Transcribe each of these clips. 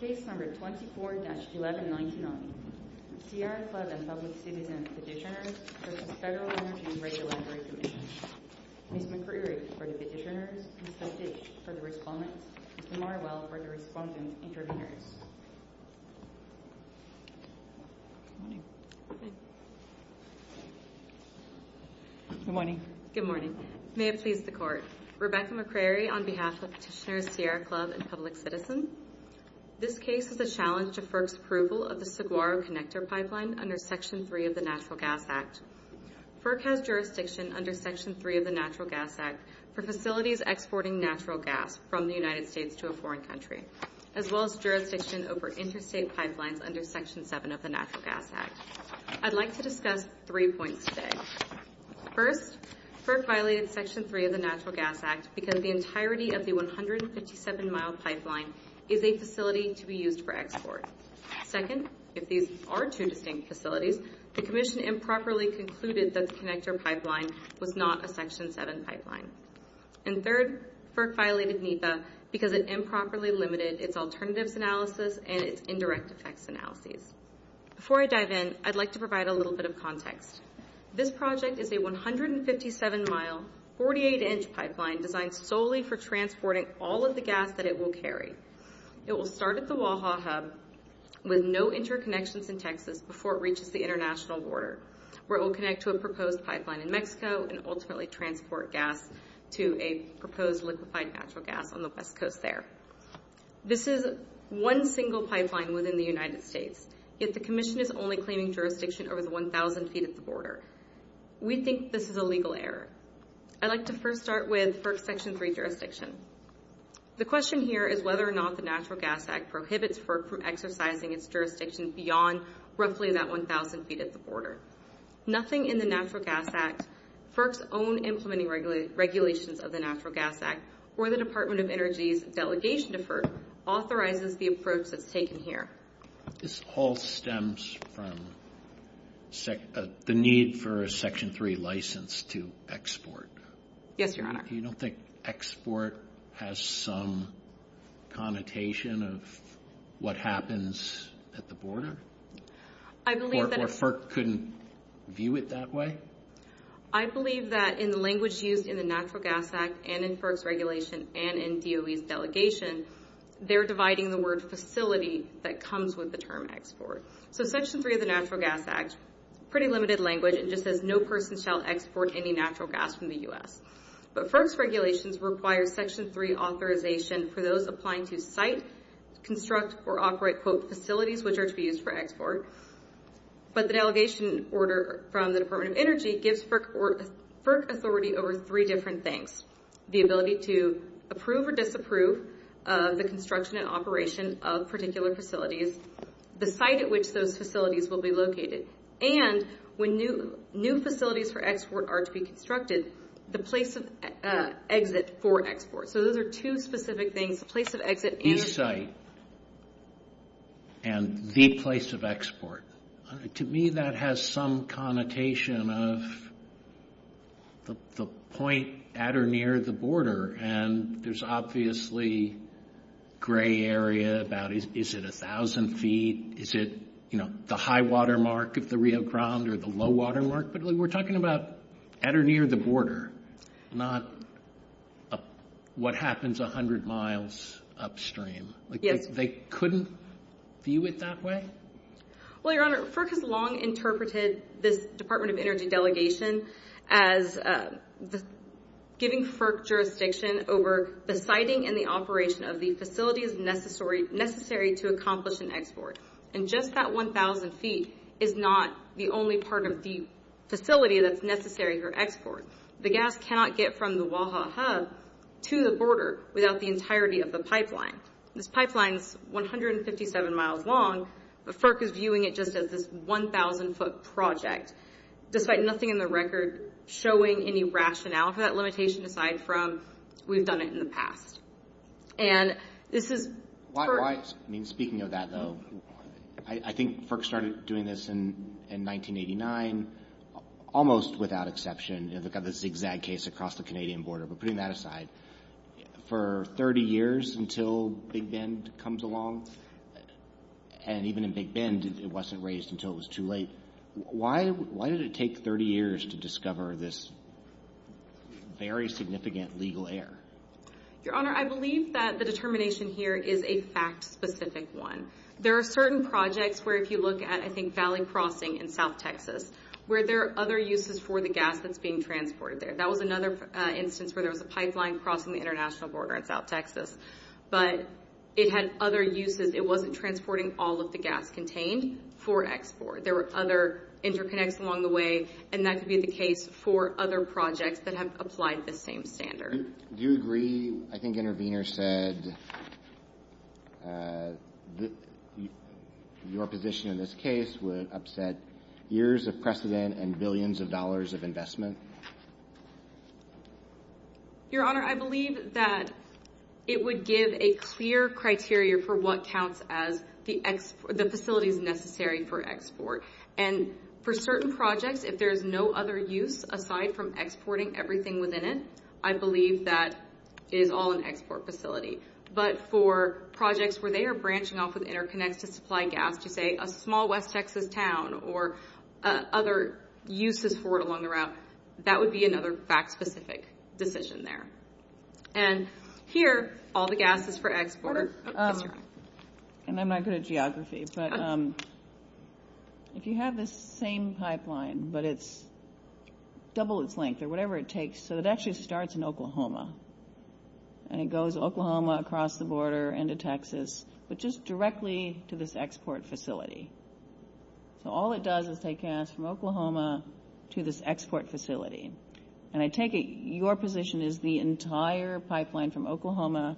Case number 24-1199. Sierra Club and Public Citizens Petitioners v. Federal Energy and Radio Laboratory Commission. Ms. McCrary is the Petitioner, and Judge H is the Respondent. We are now for the Respondent's Introduction. Good morning. Good morning. May it please the Court. Rebecca McCrary on behalf of the Petitioner, Sierra Club, and Public Citizens. This case is a challenge to FERC's approval of the Saguaro Connector Pipeline under Section 3 of the Natural Gas Act. FERC has jurisdiction under Section 3 of the Natural Gas Act for facilities exporting natural gas from the United States to a foreign country, as well as jurisdiction over interstate pipelines under Section 7 of the Natural Gas Act. I'd like to discuss three points today. First, FERC violated Section 3 of the Natural Gas Act because the entirety of the 157-mile pipeline is a facility to be used for export. Second, if these are two distinct facilities, the Commission improperly concluded that the connector pipeline was not a Section 7 pipeline. And third, FERC violated NEPA because it improperly limited its alternatives analysis and its indirect effects analysis. Before I dive in, I'd like to provide a little bit of context. This project is a 157-mile, 48-inch pipeline designed solely for transporting all of the gas that it will carry. It will start at the Oaxaca with no interconnections in Texas before it reaches the international border, where it will connect to a proposed pipeline in Mexico and ultimately transport gas to a proposed liquefied natural gas on the west coast there. This is one single pipeline within the United States. If the Commission is only claiming jurisdiction over the 1,000-seat border, we think this is a legal error. I'd like to first start with FERC's Section 3 jurisdiction. The question here is whether or not the Natural Gas Act prohibits FERC from exercising its jurisdiction beyond roughly that 1,000-seat border. Nothing in the Natural Gas Act, FERC's own implementing regulations of the Natural Gas Act, or the Department of Energy's delegation to FERC authorizes the approach that's taken here. This all stems from the need for a Section 3 license to export. Yes, Your Honor. You don't think export has some connotation of what happens at the border? I believe that... Or FERC couldn't view it that way? I believe that in the language used in the Natural Gas Act and in FERC's regulation and in DOE's delegation, they're dividing the word facility that comes with the term export. So Section 3 of the Natural Gas Act, pretty limited language. It just says no person shall export any natural gas from the U.S. But FERC's regulations require Section 3 authorization for those applying to site, construct, or operate, quote, facilities which are to be used for export. But the delegation order from the Department of Energy gives FERC authority over three different things, the ability to approve or disapprove the construction and operation of particular facilities, the site at which those facilities will be located, and when new facilities for export are to be constructed, the place of exit for export. So those are two specific things, place of exit and... The site and the place of export. To me, that has some connotation of the point at or near the border, and there's obviously gray area about, is it 1,000 feet? Is it, you know, the high water mark of the Rio Grande or the low water mark? We're talking about at or near the border, not what happens 100 miles upstream. They couldn't view it that way? Well, Your Honor, FERC has long interpreted the Department of Energy delegation as giving FERC jurisdiction over the siting and the operation of the facilities necessary to accomplish an export. And just that 1,000 feet is not the only part of the facility that's necessary for export. The gas cannot get from the Oaxaca to the border without the entirety of the pipeline. This pipeline is 157 miles long, but FERC is viewing it just as this 1,000 foot project. There's like nothing in the record showing any rationale for that location aside from we've done it in the past. And this is... I mean, speaking of that, though, I think FERC started doing this in 1989, almost without exception, and we've got this exact case across the Canadian border, but putting that aside. For 30 years until Big Bend comes along, and even in Big Bend it wasn't raised until it was too late, why did it take 30 years to discover this very significant legal error? Your Honor, I believe that the determination here is a fact-specific one. There are certain projects where if you look at, I think, Valley Crossing in South Texas, where there are other uses for the gas that's being transported there. That was another instance where there was a pipeline crossing the international border in South Texas, but it had other uses. It wasn't transporting all of the gas contained for export. There were other interconnects along the way, and that could be the case for other projects that have applied the same standards. Do you agree, I think Intervenor said, your position in this case would upset years of precedent and billions of dollars of investment? Your Honor, I believe that it would give a clear criteria for what counts as the facilities necessary for export. For certain projects, if there's no other use aside from exporting everything within it, I believe that is all an export facility. But for projects where they are branching off an interconnected supply gap to, say, a small West Texas town or other uses for it along the route, that would be another fact-specific decision there. Here, all the gas is for export. And I'm not good at geography, but if you have the same pipeline, but it's double its length or whatever it takes, so it actually starts in Oklahoma, and it goes Oklahoma across the border into Texas, but just directly to this export facility. So all it does is take gas from Oklahoma to this export facility. And I take it your position is the entire pipeline from Oklahoma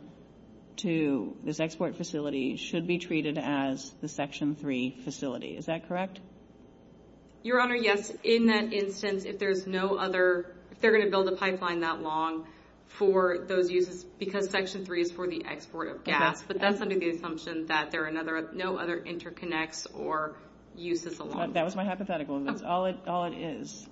to this export facility should be treated as the Section 3 facility. Is that correct? Your Honor, yes. In that instance, if there's no other, if they're going to build a pipeline that long for those uses, because Section 3 is for the export of gas, but that's under the assumption that there are no other interconnects or uses along the route. That was my hypothetical. That's all it is.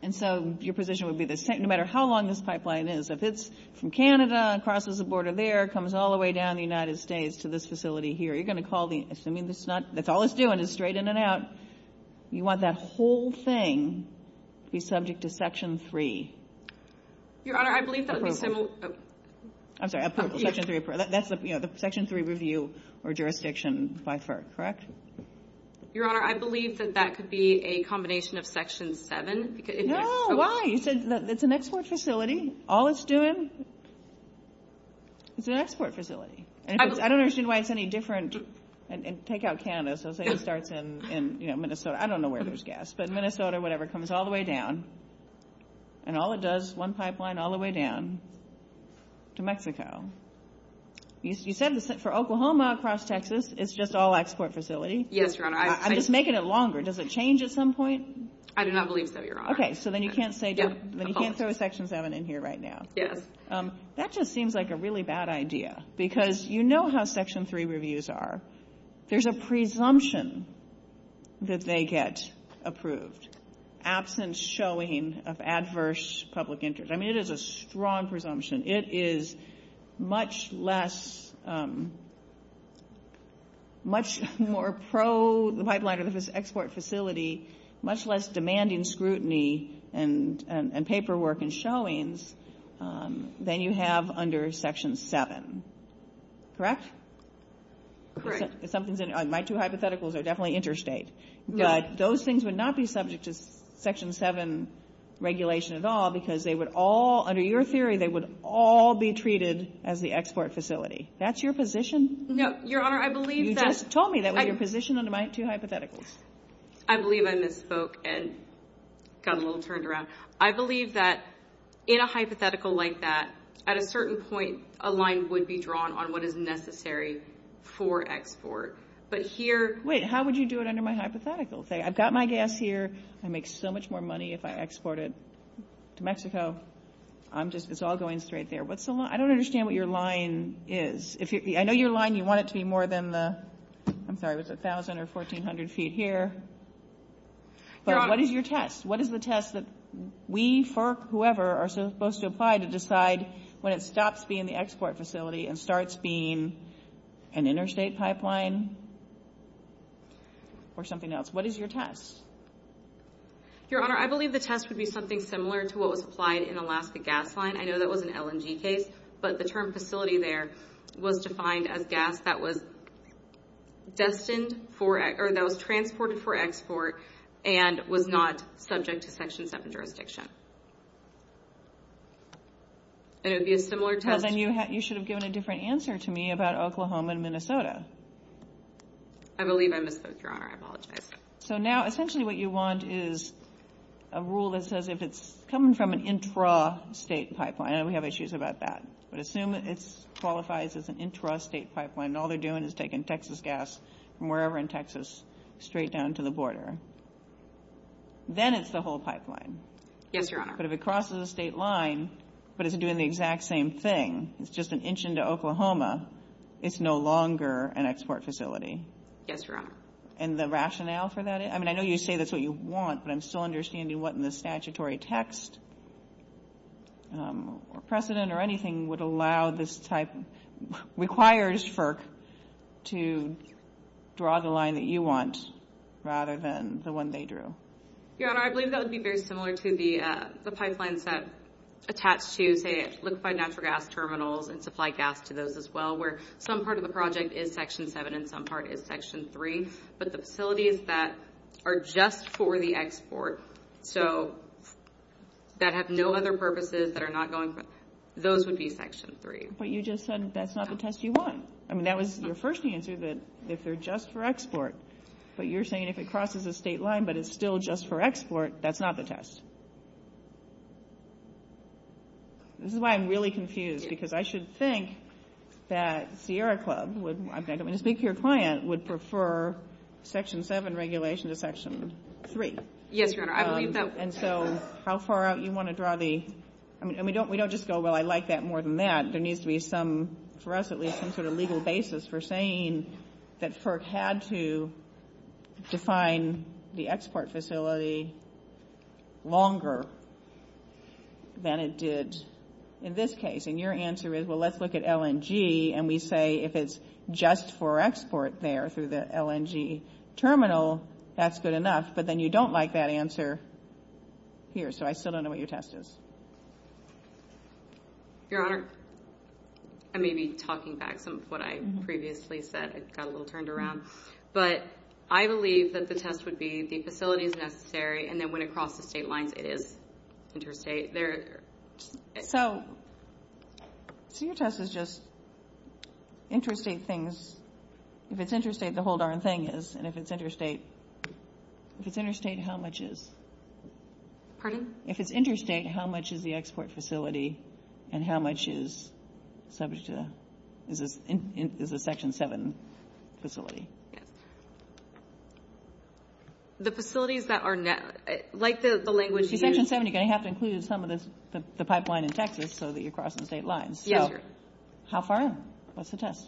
And so your position would be that no matter how long this pipeline is, if it's from Canada and crosses the border there, comes all the way down to the United States to this facility here, you're going to call the, assuming that's not, that's all it's doing is straightening it out, you want that whole thing to be subject to Section 3. Your Honor, I believe that would be Section 3. That's the Section 3 review or jurisdiction by FERC, correct? Your Honor, I believe that that could be a combination of Section 7. No, why? It's an export facility. All it's doing, it's an export facility. I don't understand why it's any different. Take out Canada. So say it starts in Minnesota. I don't know where there's gas. But Minnesota, whatever, comes all the way down. And all it does, one pipeline all the way down to Mexico. You said for Oklahoma across Texas, it's just all export facility. Yes, Your Honor. I'm just making it longer. Does it change at some point? I do not believe so, Your Honor. Okay. So then you can't throw Section 7 in here right now. Yes. That just seems like a really bad idea because you know how Section 3 reviews are. There's a presumption that they get approved. There's an absence showing of adverse public interest. I mean, it is a strong presumption. It is much less, much more pro the pipeline of this export facility, much less demanding scrutiny and paperwork and showings than you have under Section 7. Correct? Correct. My two hypotheticals are definitely interstate. But those things would not be subject to Section 7 regulation at all because they would all, under your theory, they would all be treated as the export facility. That's your position? No. Your Honor, I believe that. You just told me that was your position under my two hypotheticals. I believe I misspoke and got a little turned around. I believe that in a hypothetical like that, at a certain point, a line would be drawn on what is necessary for export. Wait, how would you do it under my hypotheticals? I've got my gas here. I make so much more money if I export it to Mexico. It's all going straight there. I don't understand what your line is. I know your line, you want it to be more than 1,000 or 1,400 feet here. What is your test? What is the test that we, FERC, whoever, are supposed to apply to decide when it stops being the export facility and starts being an interstate pipeline or something else? What is your test? Your Honor, I believe the test would be something similar to what was applied in Alaska Gas Line. I know that was an LNG case, but the term facility there was defined as gas that was transported for export and was not subject to Section 7 jurisdiction. It would be a similar test. Well, then you should have given a different answer to me about Oklahoma and Minnesota. I believe I missed it, Your Honor. I apologize. So now essentially what you want is a rule that says if it's coming from an intrastate pipeline, and we have issues about that, but assume it qualifies as an intrastate pipeline and all they're doing is taking Texas gas from wherever in Texas straight down to the border. Then it's the whole pipeline. Yes, Your Honor. But if it crosses a state line, but it's doing the exact same thing, it's just an inch into Oklahoma, it's no longer an export facility. Yes, Your Honor. And the rationale for that, I mean, I know you say that's what you want, but I'm still understanding what in the statutory text precedent or anything would allow this type, requires FERC to draw the line that you want rather than the one they drew. Your Honor, I believe that would be very similar to the pipelines that attach to, say, liquefied natural gas terminals and supply gas to those as well, where some part of the project is Section 7 and some part is Section 3. But the facilities that are just for the export, so that have no other purposes that are not going, those would be Section 3. But you just said that's not the test you want. I mean, that was your first answer, that if they're just for export. But you're saying if it crosses the state line, but it's still just for export, that's not the test. This is why I'm really confused, because I should think that Sierra Club would, when you speak to your client, would prefer Section 7 regulation to Section 3. Yes, Your Honor. And so how far out do you want to draw the, I mean, we don't just go, well, I like that more than that. I think there needs to be some, for us at least, some sort of legal basis for saying that FERC had to define the export facility longer than it did in this case. And your answer is, well, let's look at LNG, and we say if it's just for export there through the LNG terminal, that's good enough, but then you don't like that answer here. So I still don't know what your test is. Your Honor, I may be talking back to what I previously said. I got a little turned around. But I believe that the test would be the facility is necessary, and then when it crosses state lines, it is interstate. So your test is just interstate things. If it's interstate, the whole darn thing is. And if it's interstate, how much is? Pardon? If it's interstate, how much is the export facility and how much is subject to, is a Section 7 facility? The facilities that are, like the language you used. Section 7, you're going to have to include some of the pipeline in Texas so that you're crossing state lines. Yes. How far is it? What's the test?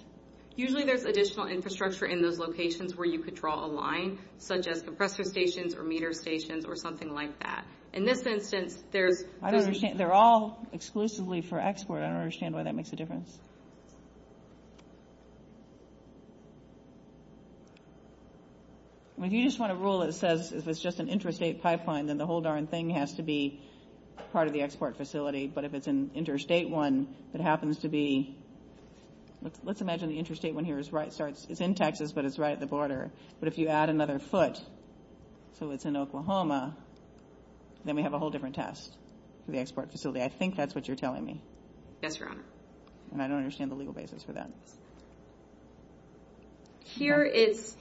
Usually there's additional infrastructure in those locations where you could draw a line, such as the pressure stations or meter stations or something like that. In this instance, there's... I don't understand. They're all exclusively for export. I don't understand why that makes a difference. Well, if you just want to rule it as if it's just an interstate pipeline, then the whole darn thing has to be part of the export facility. But if it's an interstate one that happens to be... Let's imagine the interstate one here is right... It's in Texas, but it's right at the border. But if you add another foot, so it's in Oklahoma, then we have a whole different test for the export facility. I think that's what you're telling me. Yes, Your Honor. And I don't understand the legal basis for that. Here is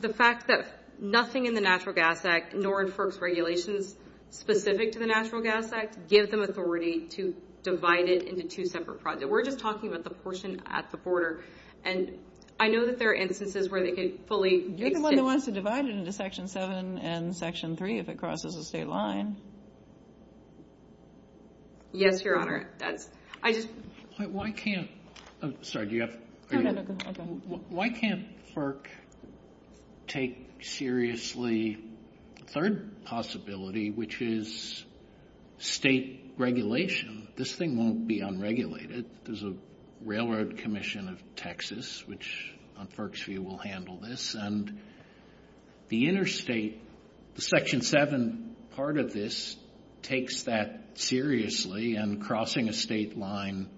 the fact that nothing in the Natural Gas Act, nor in FERC's regulations specific to the Natural Gas Act, gives them authority to divide it into two separate projects. We're just talking about the portion at the border. I know that there are instances where they could fully... They could one day want to divide it into Section 7 and Section 3 if it crosses a state line. Yes, Your Honor. Why can't FERC take seriously the third possibility, which is state regulation? This thing won't be unregulated. There's a railroad commission of Texas, which, on FERC's view, will handle this. And the interstate... The Section 7 part of this takes that seriously, and crossing a state line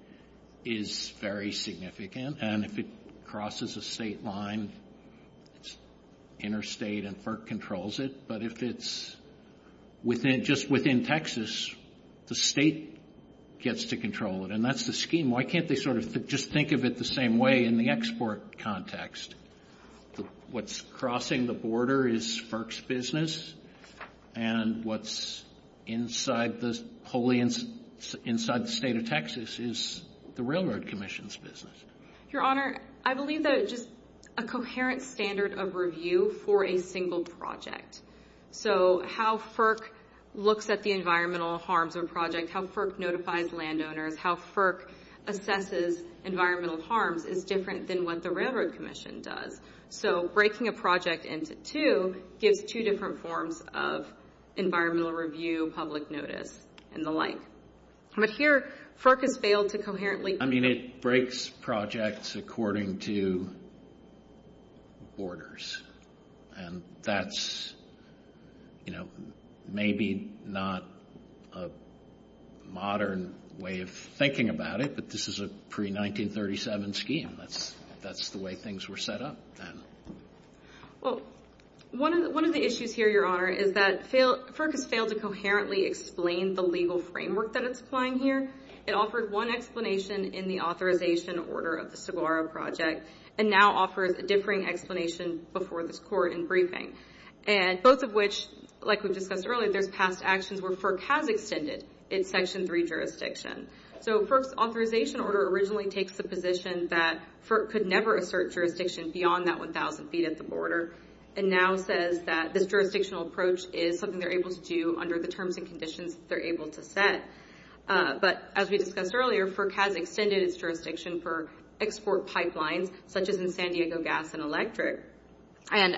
is very significant. And if it crosses a state line, it's interstate and FERC controls it. But if it's just within Texas, the state gets to control it. And that's the scheme. Why can't they just think of it the same way in the export context? What's crossing the border is FERC's business, and what's inside the state of Texas is the railroad commission's business. Your Honor, I believe that it's just a coherent standard of review for a single project. So how FERC looks at the environmental harms of a project, how FERC notifies landowners, how FERC assesses environmental harms is different than what the railroad commission does. So breaking a project into two gives two different forms of environmental review, public notice, and the like. But here, FERC has failed to coherently... I mean, it breaks projects according to borders. And that's maybe not a modern way of thinking about it, but this is a pre-1937 scheme. That's the way things were set up then. Well, one of the issues here, Your Honor, is that FERC has failed to coherently explain the legal framework that it's applying here. It offered one explanation in the authorization order of the Saguaro project, and now offers differing explanations before this court in briefing. And both of which, like we discussed earlier, there's past actions where FERC has extended its Section 3 jurisdiction. So FERC's authorization order originally takes the position that FERC could never assert jurisdiction beyond that 1,000 feet at the border, and now says that this jurisdictional approach is something they're able to do under the terms and conditions that they're able to set. But as we discussed earlier, FERC has extended its jurisdiction for export pipelines, such as in San Diego Gas and Electric, and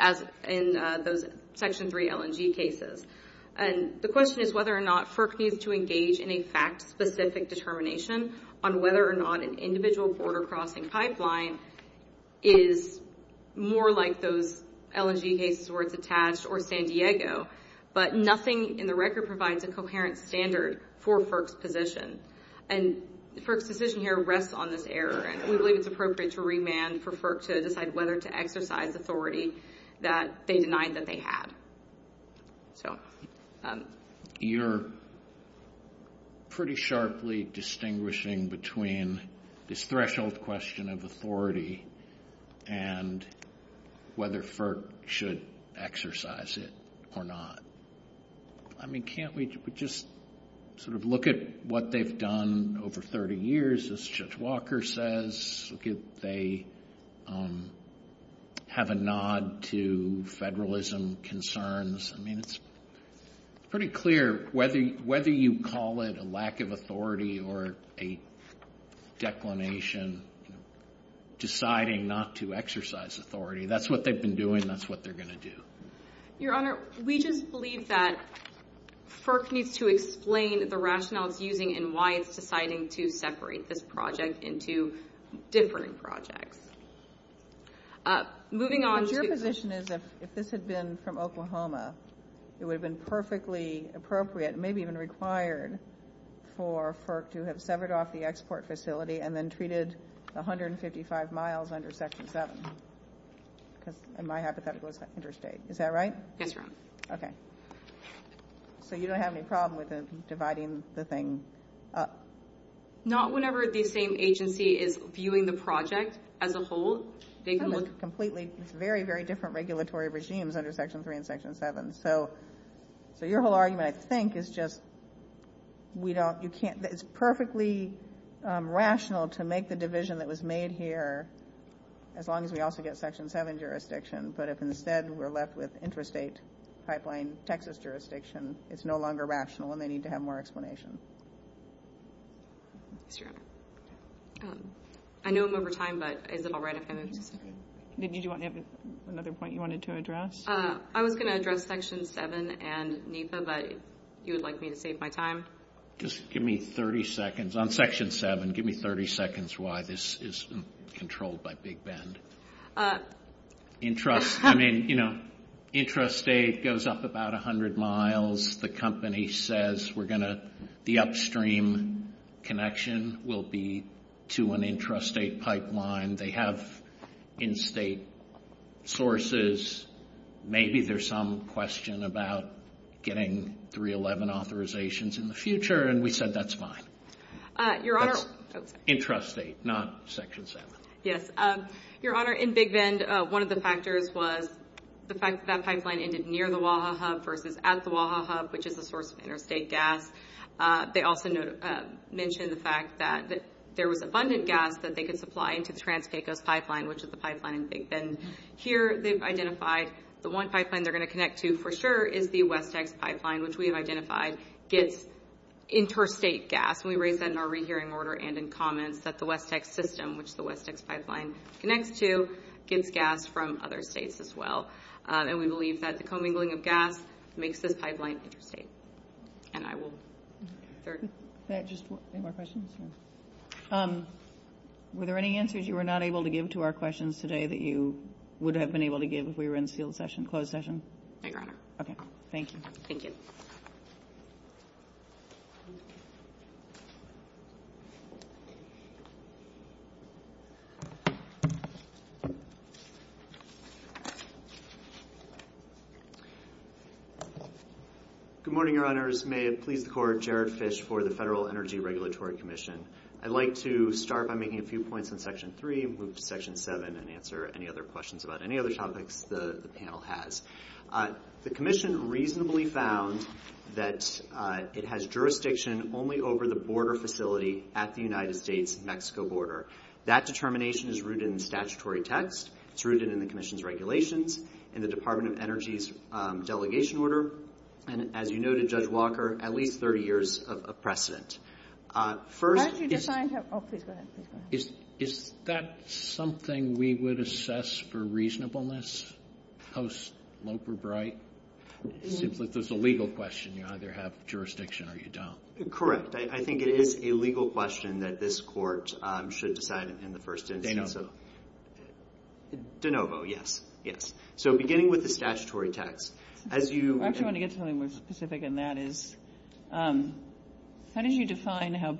in those Section 3 LNG cases. And the question is whether or not FERC needs to engage in a fact-specific determination on whether or not an individual border crossing pipeline is more like those LNG cases where it's attached or in San Diego. But nothing in the record provides a coherent standard for FERC's position. And FERC's position here rests on this error. We believe it's appropriate to remand for FERC to decide whether to exercise authority that they denied that they had. You're pretty sharply distinguishing between this threshold question of authority and whether FERC should exercise it or not. I mean, can't we just sort of look at what they've done over 30 years, as Judge Walker says? Could they have a nod to federalism concerns? I mean, it's pretty clear. Whether you call it a lack of authority or a declination, deciding not to exercise authority, that's what they've been doing. That's what they're going to do. Your Honor, we just believe that FERC needs to explain the rationale it's using and why it's deciding to separate this project into different projects. Your position is if this had been from Oklahoma, it would have been perfectly appropriate, maybe even required, for FERC to have severed off the export facility and then treated 155 miles under Section 7. In my hypothetical, it's Interstate. Is that right? That's right. Okay. So you don't have any problem with dividing the thing up? Not whenever the same agency is viewing the project as a whole. It's very, very different regulatory regimes under Section 3 and Section 7. So your whole argument, I think, is just it's perfectly rational to make the division that was made here, as long as we also get Section 7 jurisdiction, but if instead we're left with Interstate Pipeline, Texas jurisdiction, it's no longer rational and they need to have more explanation. Sure. I know I'm over time, but is it all right if I move? Did you have another point you wanted to address? I was going to address Section 7 and NEPA, but you would like me to save my time? Just give me 30 seconds. On Section 7, give me 30 seconds why this is controlled by Big Bend. I mean, you know, Intrastate goes up about 100 miles. The company says the upstream connection will be to an Intrastate Pipeline. They have in-state sources. Maybe there's some question about getting 311 authorizations in the future, and we said that's fine. Intrastate, not Section 7. Yes. Your Honor, in Big Bend, one of the factors was the fact that that Pipeline ended near the WAHA Hub versus at the WAHA Hub, which is a source of interstate gas. They also mentioned the fact that there was abundant gas that they could supply into the Trans-Texas Pipeline, which is a Pipeline in Big Bend. Here they've identified the one Pipeline they're going to connect to for sure is the West Texas Pipeline, which we have identified gets interstate gas. We raised that in our rehearing order and in comments that the West Texas System, which the West Texas Pipeline connects to, gets gas from other states as well. And we believe that the commingling of gas makes this Pipeline interstate. And I will start. Any more questions? Were there any answers you were not able to give to our questions today that you would have been able to give if we were in field session, closed session? No, Your Honor. Okay, thank you. Thank you. Good morning, Your Honors. May it please the Court, Jared Fish for the Federal Energy Regulatory Commission. I'd like to start by making a few points in Section 3, move to Section 7, and answer any other questions about any other topics the panel has. The Commission reasonably found that it has jurisdiction only over the border facility at the United States-Mexico border. That determination is rooted in statutory text. It's rooted in the Commission's regulations, in the Department of Energy's delegation order, and as you noted, Judge Walker, at least 30 years of precedent. First, is that something we would assess for reasonableness post-Loper-Bright? There's a legal question. You either have jurisdiction or you don't. Correct. I think it is a legal question that this Court should decide in the first instance. De novo, yes. Yes. So, beginning with the statutory text. I actually want to get something more specific, and that is, how did you define how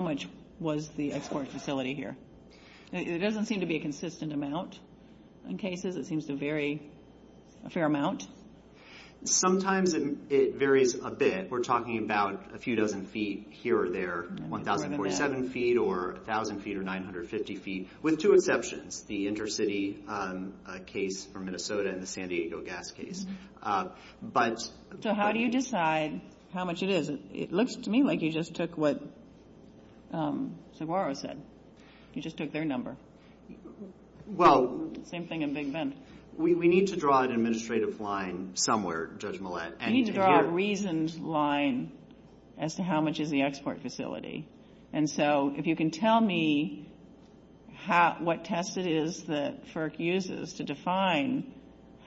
much was the export facility here? It doesn't seem to be a consistent amount. In cases, it seems to vary a fair amount. Sometimes it varies a bit. We're talking about a few dozen feet here or there, 1,047 feet or 1,000 feet or 950 feet, with two exceptions. The intercity case for Minnesota and the San Diego gas case. So, how do you decide how much it is? It looks to me like you just took what Saguaro said. You just took their number. Same thing in Big Bend. We need to draw an administrative line somewhere, Judge Millett. We need to draw a reasoned line as to how much is the export facility. And so, if you can tell me what test it is that FERC uses to define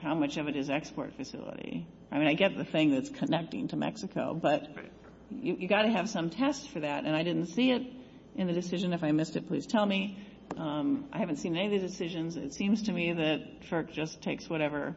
how much of it is export facility. I mean, I get the thing that's connecting to Mexico, but you've got to have some test for that, and I didn't see it in the decision. If I missed it, please tell me. I haven't seen any of the decisions. It seems to me that FERC just takes whatever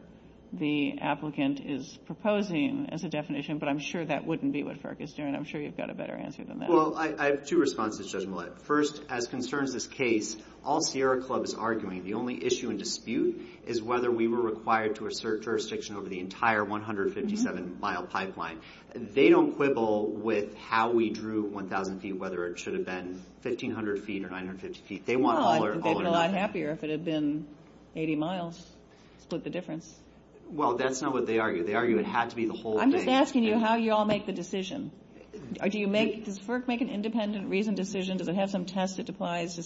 the applicant is proposing as a definition, but I'm sure that wouldn't be what FERC is doing. I'm sure you've got a better answer than that. Well, I have two responses, Judge Millett. First, as concerns this case, all Sierra Club is arguing. The only issue and dispute is whether we were required to assert jurisdiction over the entire 157-mile pipeline. They don't quibble with how we drew 1,000 feet, whether it should have been 1,500 feet or 950 feet. They want all of it. They'd be a lot happier if it had been 80 miles. Split the difference. Well, that's not what they argue. They argue it has to be the whole thing. I'm just asking you how you all make the decision. Does FERC make an independent reasoned decision? Does it have some test that defines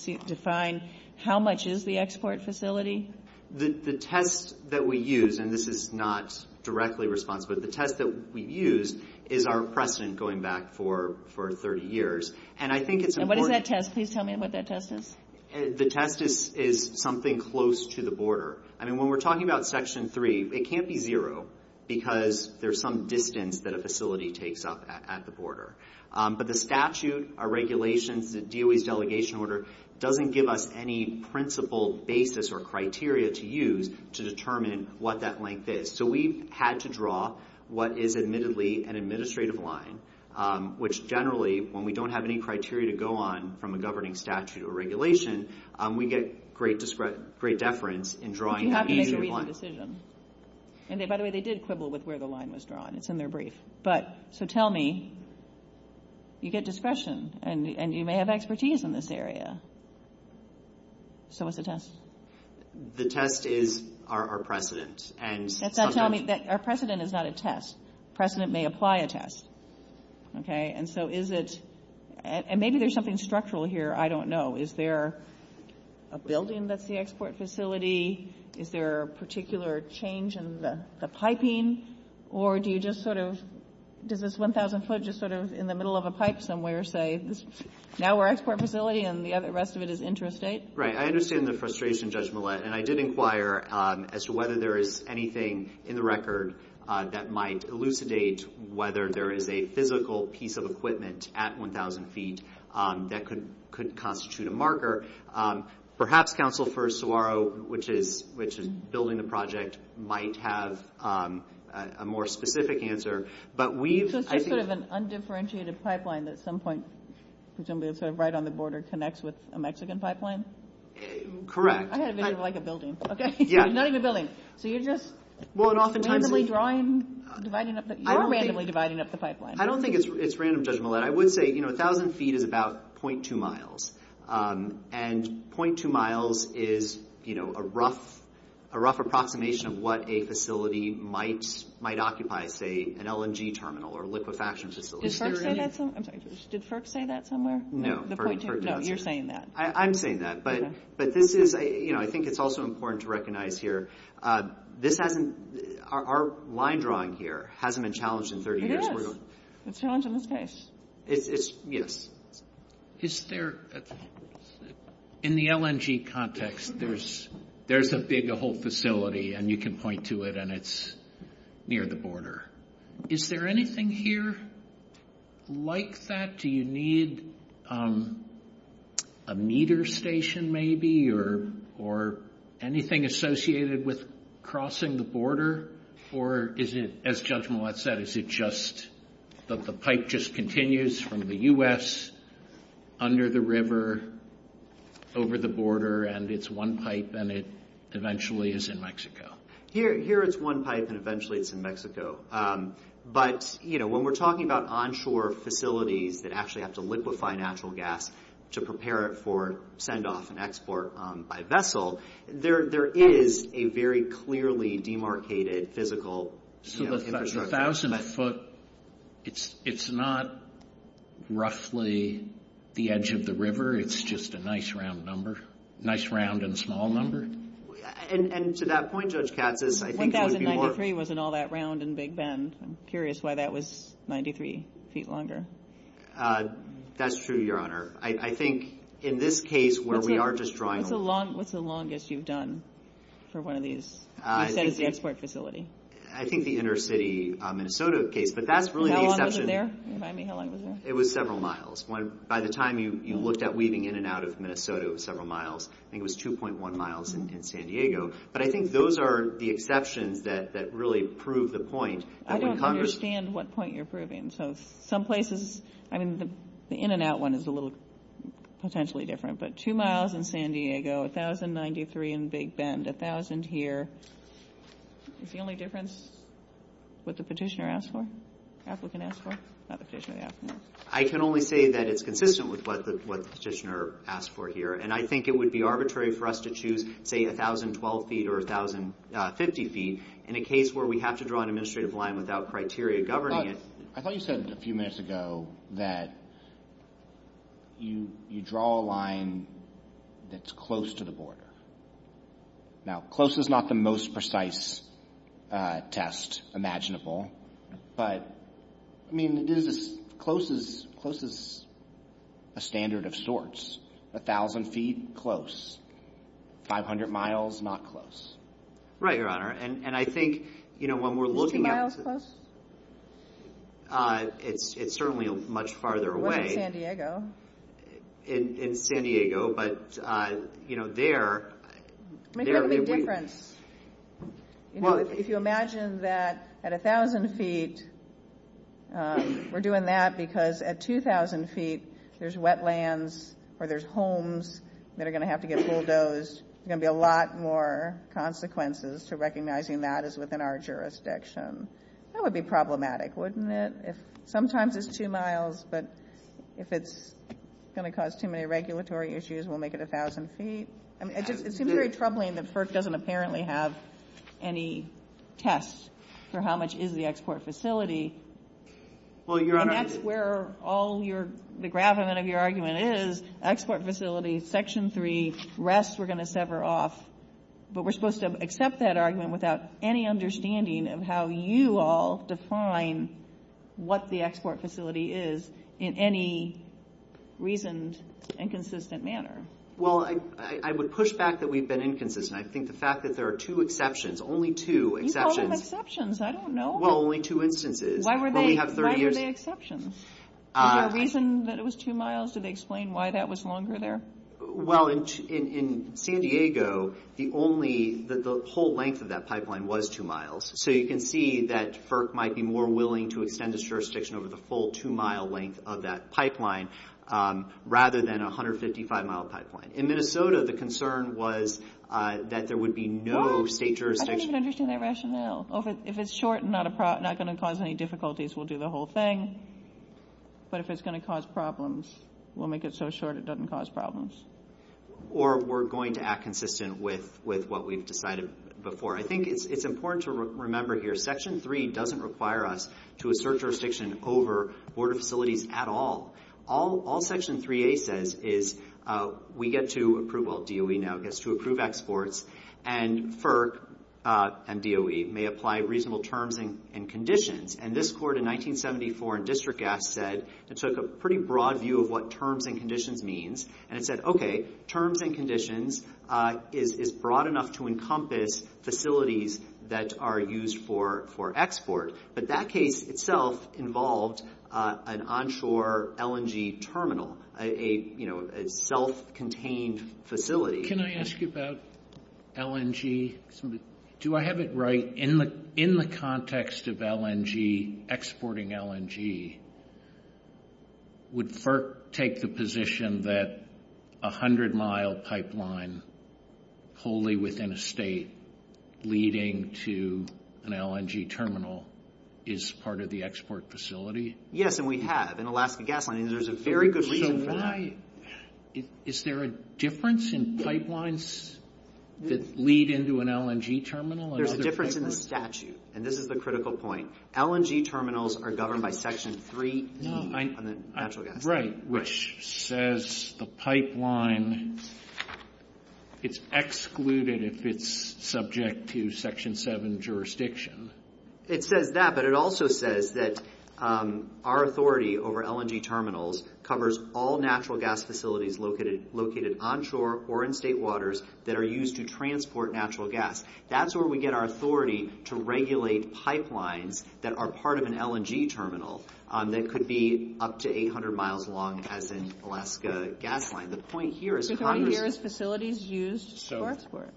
how much is the export facility? The test that we use, and this is not directly responsible, the test that we've used is our precedent going back for 30 years. And I think it's important. And what is that test? Please tell me what that test is. The test is something close to the border. When we're talking about Section 3, it can't be zero because there's some distance that a facility takes up at the border. But the statute, our regulations, the DOA's delegation order doesn't give us any principle basis or criteria to use to determine what that length is. So we've had to draw what is admittedly an administrative line, which generally, when we don't have any criteria to go on from a governing statute or regulation, we get great deference in drawing that administrative line. But you have to make a reasoned decision. And by the way, they did quibble with where the line was drawn. It's in their brief. So tell me, you get discretion and you may have expertise in this area. So what's the test? The test is our precedent. Our precedent is not a test. Precedent may apply a test. And so is it – and maybe there's something structural here. I don't know. Is there a building that's the export facility? Is there a particular change in the piping? Or do you just sort of – does this 1,000 foot just sort of in the middle of a pipe somewhere say, now we're an export facility and the rest of it is interstate? Right. I understand the frustration, Judge Millett. And I did inquire as to whether there is anything in the record that might elucidate whether there is a physical piece of equipment at 1,000 feet that could constitute a marker. Perhaps Counsel for Saguaro, which is building the project, might have a more specific answer. So it's just sort of an undifferentiated pipeline that at some point, presumably right on the border, connects with a Mexican pipeline? Correct. I thought it was like a building. Not even a building. So you're just randomly dividing up the pipeline. I don't think it's random, Judge Millett. I would say 1,000 feet is about 0.2 miles. And 0.2 miles is a rough approximation of what a facility might occupy at, say, an LNG terminal or a liquefaction facility. Did FERC say that somewhere? No. No, you're saying that. I'm saying that. But I think it's also important to recognize here, our line drawing here hasn't been challenged in 30 years. It's challenged in this case. Yes. In the LNG context, there's a big whole facility, and you can point to it, and it's near the border. Is there anything here like that? Do you need a meter station, maybe, or anything associated with crossing the border? Or is it, as Judge Millett said, is it just that the pipe just continues from the U.S. under the river over the border, and it's one pipe, and it eventually is in Mexico? Here it's one pipe, and eventually it's in Mexico. But, you know, when we're talking about onshore facilities that actually have to liquefy natural gas to prepare it for send-off and export by vessel, there is a very clearly demarcated physical infrastructure. So the thousandth foot, it's not roughly the edge of the river. It's just a nice round number, nice round and small number? And to that point, Judge Katsas, I think... 1093 wasn't all that round and big bend. I'm curious why that was 93 feet longer. That's true, Your Honor. I think in this case where we are just drawing... What's the longest you've done for one of these instead of the export facility? I think the inner city Minnesota case, but that's really the exception. How long was it there? Remind me how long it was there. It was several miles. By the time you looked at weaving in and out of Minnesota, it was several miles. I think it was 2.1 miles in San Diego. But I think those are the exceptions that really prove the point. I don't understand what point you're proving. So some places, I mean, the in and out one is a little potentially different. But two miles in San Diego, 1093 in the big bend, a thousand here. Is the only difference what the petitioner asked for? I can only say that it's consistent with what the petitioner asked for here. And I think it would be arbitrary for us to choose, say, 1012 feet or 1050 feet in a case where we have to draw an administrative line without criteria governing it. I thought you said a few minutes ago that you draw a line that's close to the border. Now, close is not the most precise test imaginable. But, I mean, close is a standard of sorts. A thousand feet, close. Five hundred miles, not close. Right, Your Honor. And I think when we're looking at it, it's certainly much farther away in San Diego. But, you know, there. Make something different. If you imagine that at a thousand feet, we're doing that because at two thousand feet, there's wetlands or there's homes that are going to have to get bulldozed. There's going to be a lot more consequences to recognizing that as within our jurisdiction. That would be problematic, wouldn't it? Sometimes it's two miles, but if it's going to cause too many regulatory issues, we'll make it a thousand feet. It seems very troubling that FERC doesn't apparently have any tests for how much is the export facility. Well, Your Honor. And that's where all the gravamen of your argument is. Export facility, section three, rest we're going to sever off. But we're supposed to accept that argument without any understanding of how you all define what the export facility is in any reasoned, inconsistent manner. Well, I would push back that we've been inconsistent. I think the fact that there are two exceptions, only two exceptions. You call them exceptions. I don't know. Well, only two instances. Why were they exceptions? Is there a reason that it was two miles? Did they explain why that was longer there? Well, in San Diego, the whole length of that pipeline was two miles. So you can see that FERC might be more willing to extend its jurisdiction over the full two-mile length of that pipeline rather than a 155-mile pipeline. In Minnesota, the concern was that there would be no state jurisdiction. I don't even understand that rationale. If it's short and not going to cause any difficulties, we'll do the whole thing. But if it's going to cause problems, we'll make it so short it doesn't cause problems. Or we're going to act consistent with what we've decided before. I think it's important to remember here, Section 3 doesn't require us to assert jurisdiction over border facilities at all. All Section 3A says is we get to approve, well, DOE now gets to approve exports, and FERC and DOE may apply reasonable terms and conditions. And this court in 1974 in District Act said, and so it's a pretty broad view of what terms and conditions means, and it said, okay, terms and conditions is broad enough to encompass facilities that are used for export. But that case itself involves an onshore LNG terminal, a self-contained facility. Can I ask you about LNG? Do I have it right? In the context of LNG, exporting LNG, would FERC take the position that a 100-mile pipeline wholly within a state leading to an LNG terminal is part of the export facility? Yes, and we have in Alaska Gas Line. Is there a difference in pipelines that lead into an LNG terminal? There's a difference in the statute, and this is the critical point. LNG terminals are governed by Section 3. Right, which says the pipeline is excluded if it's subject to Section 7 jurisdiction. It says that, but it also says that our authority over LNG terminals covers all natural gas facilities located onshore or in state waters that are used to transport natural gas. That's where we get our authority to regulate pipelines that are part of an LNG terminal that could be up to 800 miles long, as in Alaska Gas Line. The point here is... The point here is facilities used for export.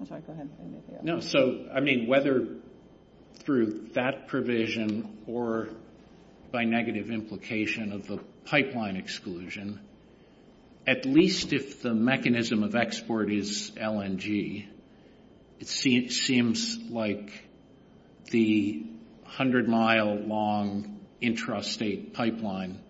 I'm sorry, go ahead. Whether through that provision or by negative implication of the pipeline exclusion, at least if the mechanism of export is LNG, it seems like the 100-mile long intrastate pipeline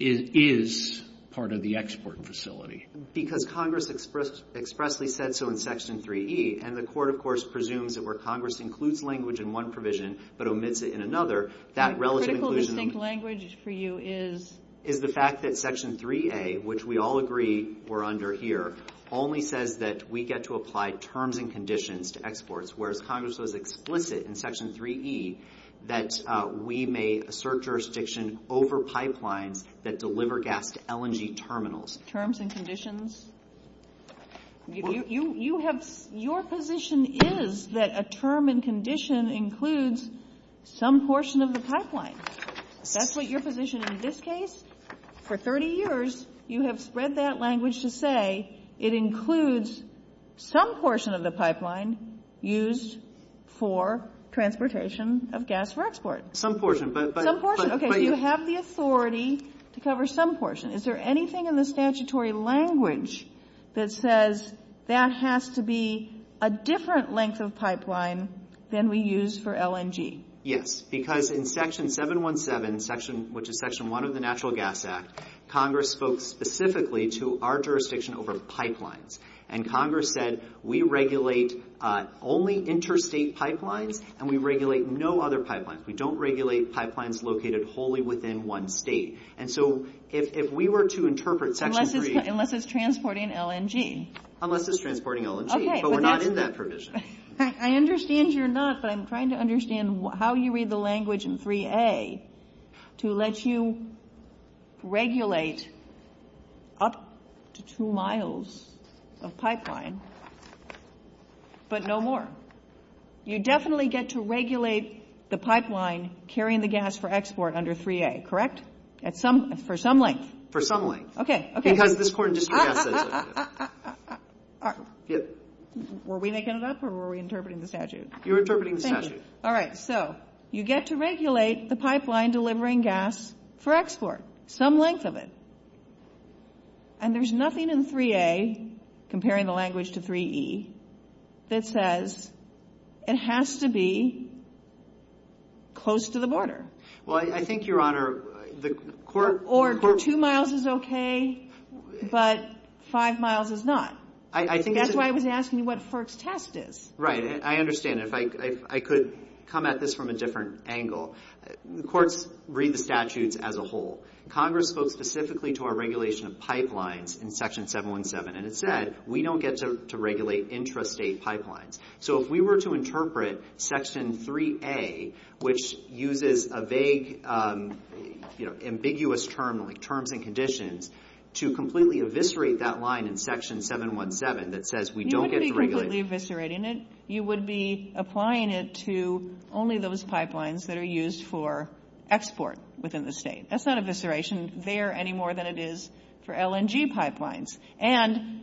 is part of the export facility. Because Congress expressly said so in Section 3E, and the court, of course, presumes that where Congress includes language in one provision but omits it in another, that relevant inclusion... The critical we think language for you is... ...is the fact that Section 3A, which we all agree we're under here, only says that we get to apply terms and conditions to exports, whereas Congress was explicit in Section 3E that we may assert jurisdiction over pipelines that deliver gas to LNG terminals. Terms and conditions? You have... Your position is that a term and condition includes some portion of the pipeline. That's what your position in this case? For 30 years, you have spread that language to say it includes some portion of the pipeline used for transportation of gas for export. Some portion, but... Some portion. Okay, you have the authority to cover some portion. Is there anything in the statutory language that says that has to be a different length of pipeline than we use for LNG? Yes, because in Section 717, which is Section 1 of the Natural Gas Act, Congress spoke specifically to our jurisdiction over pipelines. And Congress said we regulate only interstate pipelines, and we regulate no other pipelines. We don't regulate pipelines located wholly within one state. And so if we were to interpret Section 3... Unless it's transporting LNG. Unless it's transporting LNG, but we're not in that tradition. I understand you're not, but I'm trying to understand how you read the language in 3A to let you regulate up to two miles of pipeline, but no more. You definitely get to regulate the pipeline carrying the gas for export under 3A, correct? For some length. For some length. Okay, okay. Were we making it up, or were we interpreting the statute? You're interpreting the statute. Thank you. All right, so you get to regulate the pipeline delivering gas for export, some length of it. And there's nothing in 3A, comparing the language to 3E, that says it has to be close to the border. Well, I think, Your Honor, the court... Or two miles is okay, but five miles is not. I think... That's why I was asking you what the first test is. Right, I understand. If I could come at this from a different angle. The courts read the statutes as a whole. Congress spoke specifically to our regulation of pipelines in Section 717, and it said we don't get to regulate intrastate pipelines. So if we were to interpret Section 3A, which uses a vague, ambiguous term, like terms and conditions, to completely eviscerate that line in Section 717 that says we don't get to regulate... You wouldn't be completely eviscerating it. You would be applying it to only those pipelines that are used for export within the state. That's not evisceration there any more than it is for LNG pipelines. And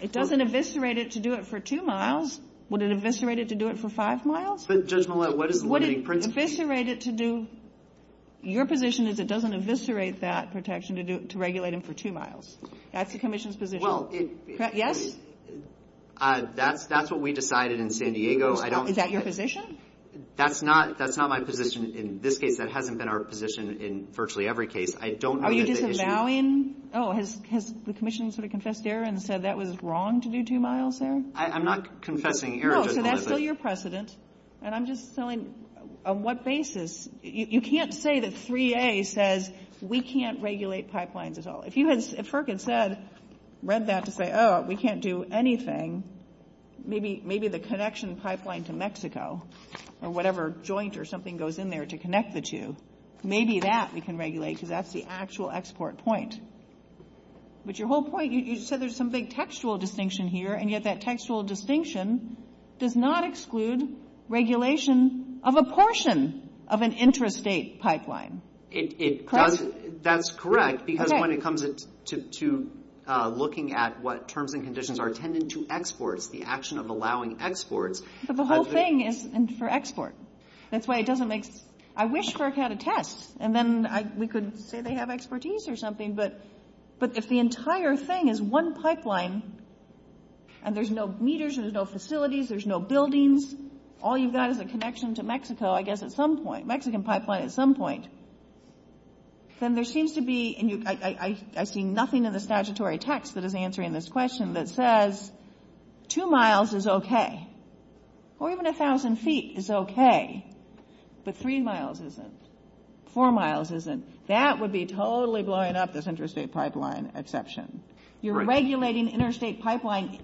it doesn't eviscerate it to do it for two miles. Would it eviscerate it to do it for five miles? Just a moment. What is... Would it eviscerate it to do... Your position is it doesn't eviscerate that protection to regulate it for two miles. That's the Commission's position. Well, it... Yes? That's what we decided in San Diego. I don't... Is that your position? That's not my position in this case. That hasn't been our position in virtually every case. I don't believe that... Are you just allowing... Oh, has the Commission sort of confessed error and said that was wrong to do two miles there? I'm not confessing error. No, so that's still your precedent. And I'm just saying on what basis... You can't say that 3A says we can't regulate pipelines at all. If you had... If FERC had said, read that and said, oh, we can't do anything, maybe the connection pipeline to Mexico or whatever joint or something goes in there to connect the two, maybe that we can regulate because that's the actual export point. But your whole point, you said there's some big textual distinction here, and yet that textual distinction does not exclude regulation of a portion of an intrastate pipeline. That's correct because when it comes to looking at what terms and conditions are tended to exports, the action of allowing exports... But the whole thing is for export. That's why it doesn't make... I wish FERC had a test, and then we could say they have expertise or something. But if the entire thing is one pipeline, and there's no meters, there's no facilities, there's no buildings, all you've got is a connection to Mexico, I guess, at some point, Mexican pipeline at some point, then there seems to be... And I see nothing in the statutory text that is answering this question that says two miles is okay, or even a thousand feet is okay, but three miles isn't, four miles isn't. That would be totally blowing up this intrastate pipeline exception. You're regulating intrastate pipeline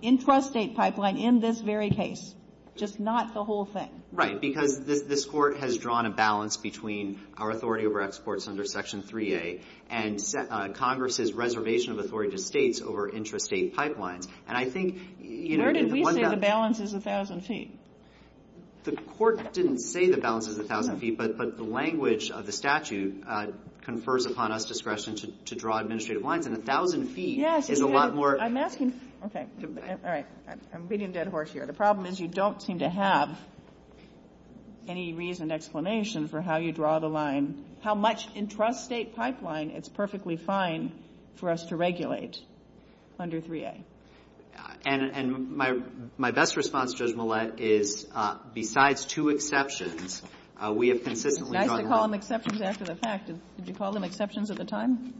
in this very case, just not the whole thing. Right, because this court has drawn a balance between our authority over exports under Section 3A and Congress's reservation of authority to states over intrastate pipelines. Where did we say the balance is a thousand feet? The court didn't say the balance is a thousand feet, but the language of the statute confers upon us discretion to draw administrative lines, and a thousand feet is a lot more... I'm asking... Okay, all right. I'm getting a dead horse here. The problem is you don't seem to have any reason, explanation for how you draw the line, how much intrastate pipeline is perfectly fine for us to regulate under 3A. And my best response, Judge Millett, is besides two exceptions, we have consistently drawn... Nice to call them exceptions after the fact. Did you call them exceptions at the time?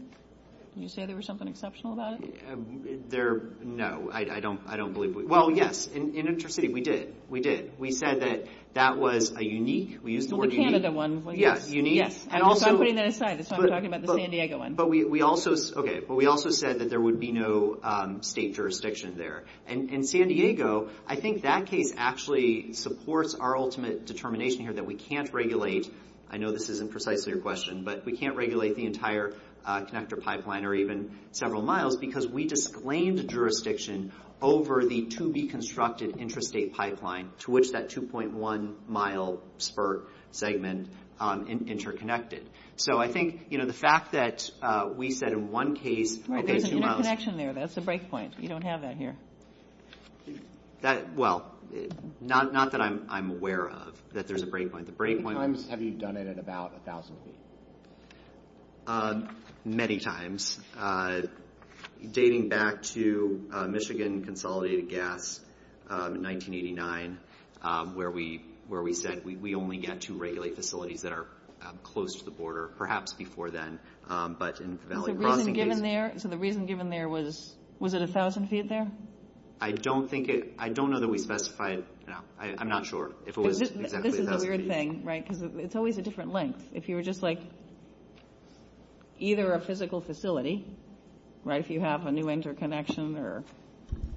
Did you say there was something exceptional about it? No, I don't believe we... Well, yes, in Intrastate, we did. We did. We said that that was a unique... The Canada one. Yes, unique. I'm putting that aside. That's why I'm talking about the San Diego one. But we also said that there would be no state jurisdiction there. In San Diego, I think that case actually supports our ultimate determination here that we can't regulate... I know this isn't precisely your question, but we can't regulate the entire connector pipeline or even several miles because we disclaimed jurisdiction over the to-be-constructed intrastate pipeline to which that 2.1-mile spur segment interconnected. So I think the fact that we said in one case... Right, there's a connection there. That's a breakpoint. You don't have that here. Well, not that I'm aware of that there's a breakpoint. The breakpoint... How many times have you done it in about 1,000 feet? Many times. Dating back to Michigan consolidated gas in 1989 where we said we only get to regulate facilities that are close to the border, perhaps before then. So the reason given there was... Was it 1,000 feet there? I don't think it... I don't know that we specified... I'm not sure if it was exactly 1,000 feet. This is the weird thing, right? Because it's always a different length. If you were just like either a physical facility, right? If you have a new interconnection or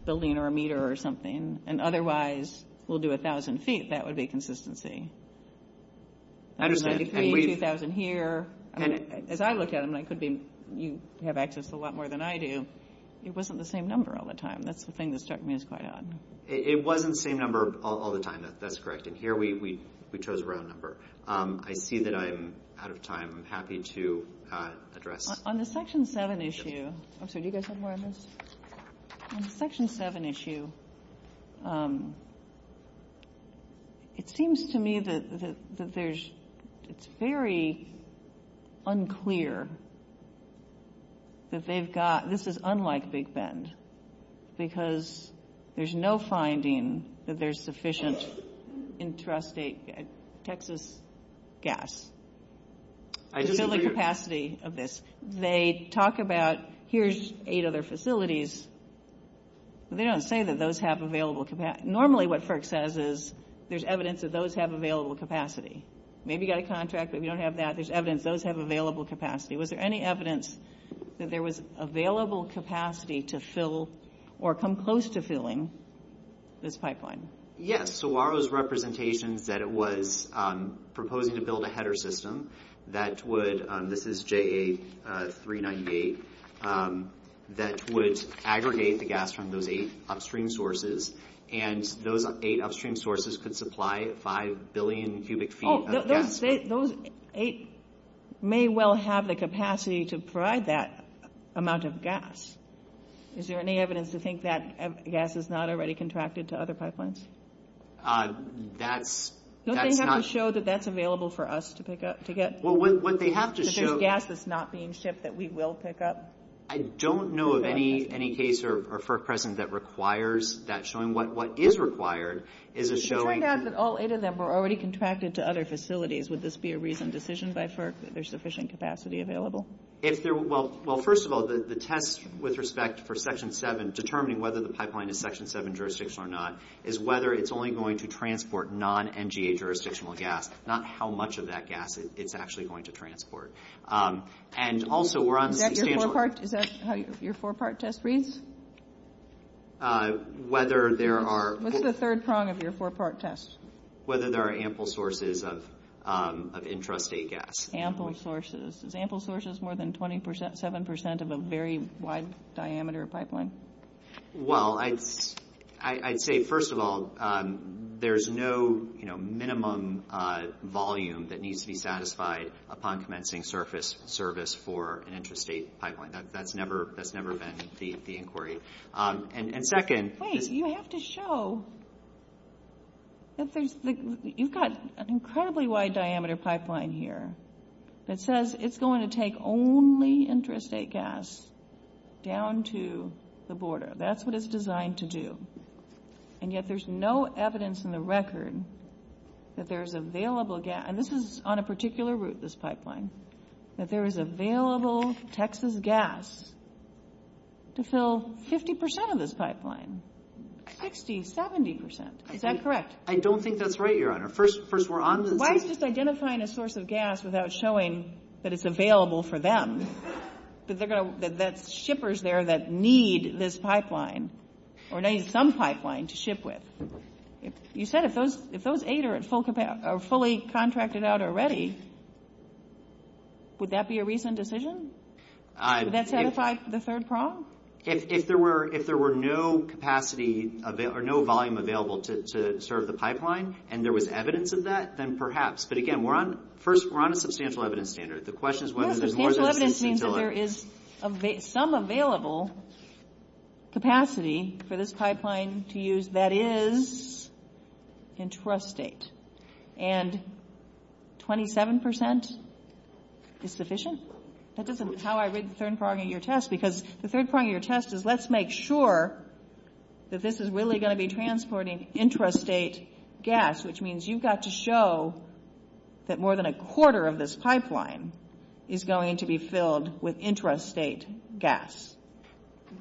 building or a meter or something, and otherwise we'll do 1,000 feet, that would be consistency. I understand. 2,000 here. As I look at it, you have access to a lot more than I do. It wasn't the same number all the time. That's the thing that struck me as quite odd. It wasn't the same number all the time. That's correct. And here we chose the wrong number. I see that I'm out of time. I'm happy to address... On the Section 7 issue... I'm sorry, do you guys have more on this? On the Section 7 issue, it seems to me that there's... It's very unclear that they've got... This is unlike Big Bend because there's no finding that there's sufficient intrastate Texas gas to fill the capacity of this. They talk about here's eight other facilities. They don't say that those have available capacity. Normally what FERC says is there's evidence that those have available capacity. Maybe you've got a contract, but if you don't have that, there's evidence those have available capacity. Was there any evidence that there was available capacity to fill or come close to filling this pipeline? Yes. So our representation that it was proposing to build a header system that would... This is JA398. That would aggregate the gas from those eight upstream sources, and those eight upstream sources could supply 5 billion cubic feet of gas. Those eight may well have the capacity to provide that amount of gas. Is there any evidence to think that gas is not already contracted to other pipelines? That's... Don't they have to show that that's available for us to pick up? Well, what they have to show... If there's gas that's not being shipped that we will pick up? I don't know of any case or FERC present that requires that showing. What is required is a showing... If they have that all eight of them were already contracted to other facilities, would this be a reasoned decision by FERC that there's sufficient capacity available? Well, first of all, the test with respect for Section 7, determining whether the pipeline is Section 7 jurisdiction or not, is whether it's only going to transport non-NGA jurisdictional gas, not how much of that gas it's actually going to transport. And also we're on... Is that how your four-part test reads? Whether there are... What's the third prong of your four-part test? Whether there are ample sources of intrastate gas. Ample sources. Is ample sources more than 27% of a very wide diameter pipeline? Well, I'd say, first of all, there's no minimum volume that needs to be satisfied upon commencing service for an intrastate pipeline. That's never been the inquiry. And second... Wait, you have to show... You've got an incredibly wide diameter pipeline here that says it's going to take only intrastate gas down to the border. That's what it's designed to do. And yet there's no evidence in the record that there's available gas... And this is on a particular route, this pipeline, that there is available Texas gas to fill 50% of this pipeline. 60, 70%. Is that correct? I don't think that's right, Your Honor. First, we're on to... Why is this identifying a source of gas without showing that it's available for them? The shippers there that need this pipeline or need some pipeline to ship with. You said if those eight are fully contracted out already, would that be a recent decision? Would that satisfy the third problem? If there were no capacity or no volume available to serve the pipeline and there was evidence of that, then perhaps. But again, first, we're on a substantial evidence standard. The question is whether there's more... Substantial evidence means that there is some available capacity for this pipeline to use that is intrastate. And 27% is sufficient? That doesn't... How I read the third part of your test, because the third part of your test is let's make sure that this is really going to be transporting intrastate gas, which means you've got to show that more than a quarter of this pipeline is going to be filled with intrastate gas.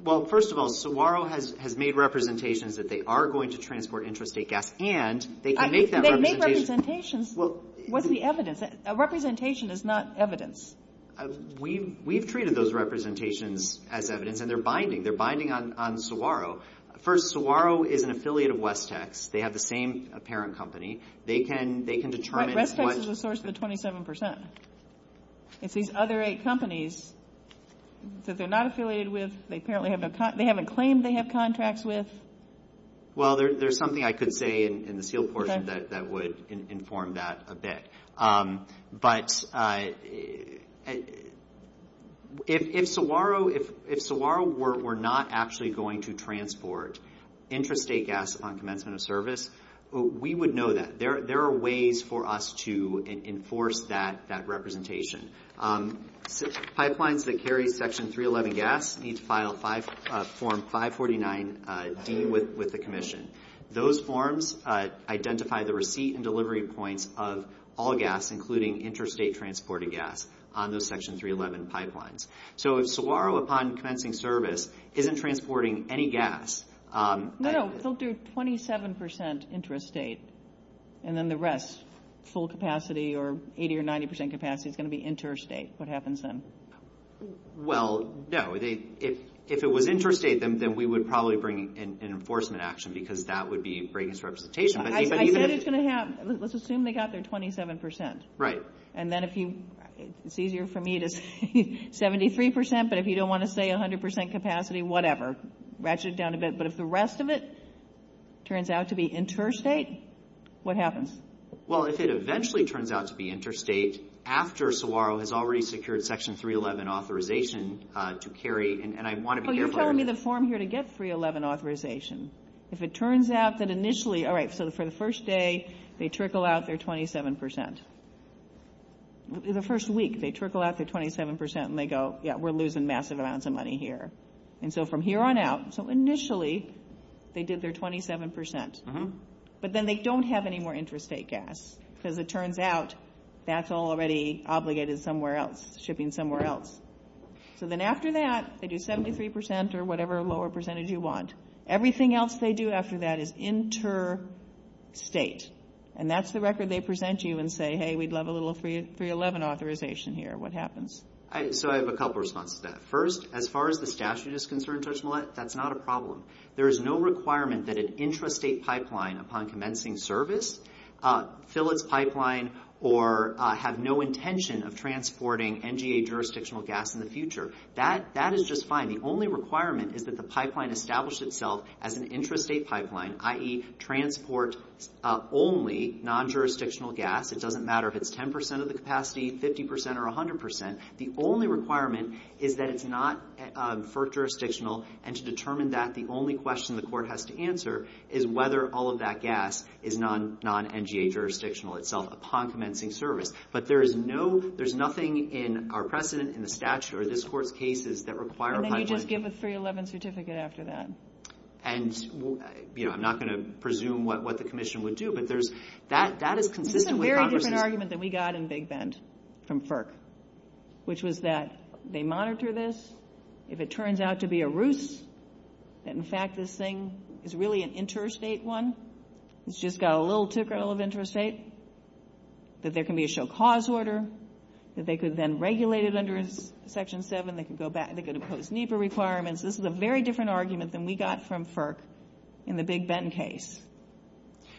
Well, first of all, Saguaro has made representations that they are going to transport intrastate gas and they can make that representation... They make representations. What's the evidence? A representation is not evidence. We've treated those representations as evidence and they're binding. They're binding on Saguaro. First, Saguaro is an affiliate of Westex. They have the same apparent company. They can determine what... But Westex is a source of the 27%. It's these other eight companies that they're not affiliated with. They apparently haven't... They haven't claimed they have contracts with. Well, there's something I could say in the SEAL portion that would inform that a bit. But if Saguaro were not actually going to transport intrastate gas on commencement of service, we would know that. There are ways for us to enforce that representation. Pipelines that carry Section 311 gas need to file Form 549-D with the Commission. Those forms identify the receipt and delivery points of all gas, including intrastate transported gas, on those Section 311 pipelines. So if Saguaro, upon commencing service, isn't transporting any gas... No, they'll do 27% intrastate and then the rest, full capacity or 80% or 90% capacity, is going to be intrastate. What happens then? Well, no. If it was intrastate, then we would probably bring in enforcement action, because that would be breaking this representation. I bet it's going to happen. Let's assume they got their 27%. Right. And then if you... It's easier for me to say 73%, but if you don't want to say 100% capacity, whatever. Ratchet it down a bit. But if the rest of it turns out to be intrastate, what happens? Well, if it eventually turns out to be intrastate, after Saguaro has already secured Section 311 authorization to carry, and I want to be careful... So you're telling me the form here to get 311 authorization. If it turns out that initially... All right, so for the first day, they trickle out their 27%. The first week, they trickle out their 27% and they go, yeah, we're losing massive amounts of money here. And so from here on out... So initially, they did their 27%. But then they don't have any more intrastate gas, because it turns out that's already obligated somewhere else, shipping somewhere else. So then after that, they do 73% or whatever lower percentage you want. Everything else they do after that is interstate. And that's the record they present you and say, hey, we'd love a little 311 authorization here. What happens? So I have a couple of responses to that. First, as far as the statute is concerned, Judge Millett, that's not a problem. There is no requirement that an intrastate pipeline upon commencing service fill its pipeline or have no intention of transporting NGA jurisdictional gas in the future. That is just fine. The only requirement is that the pipeline establish itself as an intrastate pipeline, i.e., transport only non-jurisdictional gas. It doesn't matter if it's 10% of the capacity, 50% or 100%. The only requirement is that it's not FERC jurisdictional, and to determine that the only question the court has to answer is whether all of that gas is non-NGA jurisdictional itself upon commencing service. But there's nothing in our precedent in the statute or this court's cases that require pipeline. And then you just give a 311 certificate after that. And, you know, I'm not going to presume what the commission would do, but that is consistent. This is a very different argument than we got in Big Bend from FERC, which was that they monitor this. If it turns out to be a ruse, that, in fact, this thing is really an intrastate one, it's just got a little ticker of intrastate, that there can be a show cause order, that they could then regulate it under Section 7. They could impose NEPA requirements. This is a very different argument than we got from FERC in the Big Bend case,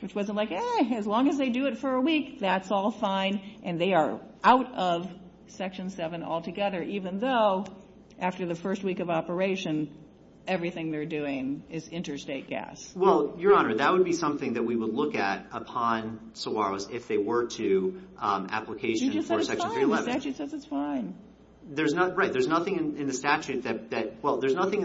which wasn't like, as long as they do it for a week, that's all fine, and they are out of Section 7 altogether, even though after the first week of operation, everything they're doing is interstate gas. Well, Your Honor, that would be something that we would look at upon Saguaro's if they were to application for Section 311. You just said it's fine. The statute says it's fine. There's nothing in the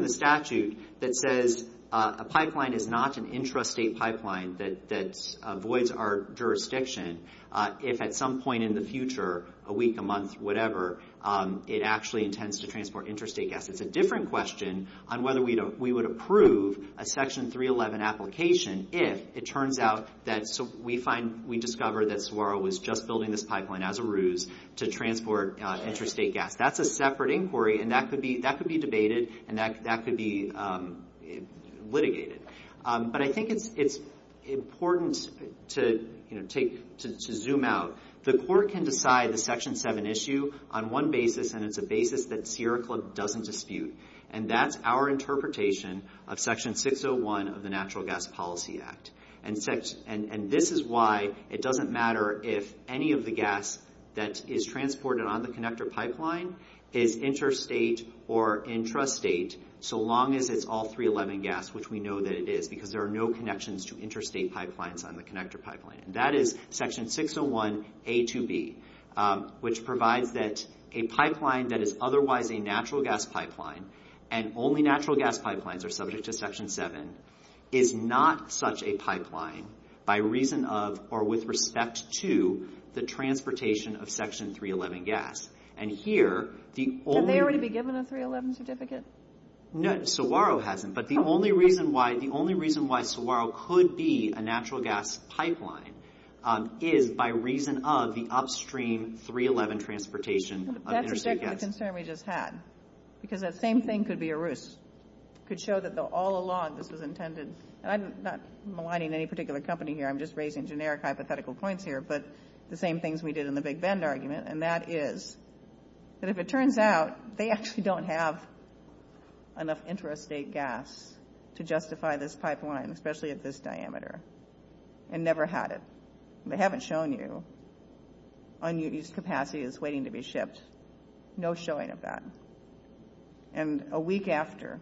statute that says a pipeline is not an intrastate pipeline. There's no pipeline that avoids our jurisdiction if at some point in the future, a week, a month, whatever, it actually intends to transport intrastate gas. It's a different question on whether we would approve a Section 311 application if it turns out that we discover that Saguaro was just building this pipeline as a ruse to transport intrastate gas. That's a separate inquiry, and that could be debated, and that could be litigated. But I think it's important to zoom out. The court can decide the Section 7 issue on one basis, and it's a basis that Sierra Club doesn't dispute, and that's our interpretation of Section 601 of the Natural Gas Policy Act. And this is why it doesn't matter if any of the gas that is transported on the connector pipeline is interstate or intrastate so long as it's all 311 gas, which we know that it is, because there are no connections to interstate pipelines on the connector pipeline. And that is Section 601a to b, which provides that a pipeline that is otherwise a natural gas pipeline and only natural gas pipelines are subject to Section 7 is not such a pipeline by reason of or with respect to the transportation of Section 311 gas. Could they already be given a 311 certificate? No, Saguaro hasn't, but the only reason why Saguaro could be a natural gas pipeline is by reason of the upstream 311 transportation of interstate gas. That's exactly the concern we just had, because that same thing could be a ruse. It could show that all along this was intended, and I'm not maligning any particular company here, I'm just raising generic hypothetical points here, but the same things we did in the Big Bend argument, and that is that if it turns out they actually don't have enough intrastate gas to justify this pipeline, especially at this diameter, and never had it. They haven't shown you unused capacity that's waiting to be shipped, no showing of that. And a week after,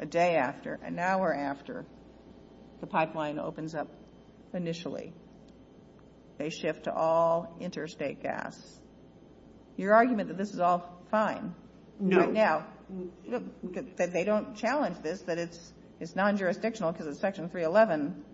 a day after, an hour after, the pipeline opens up initially. They shift to all interstate gas. Your argument that this is all fine right now, that they don't challenge this, that it's non-jurisdictional because of Section 311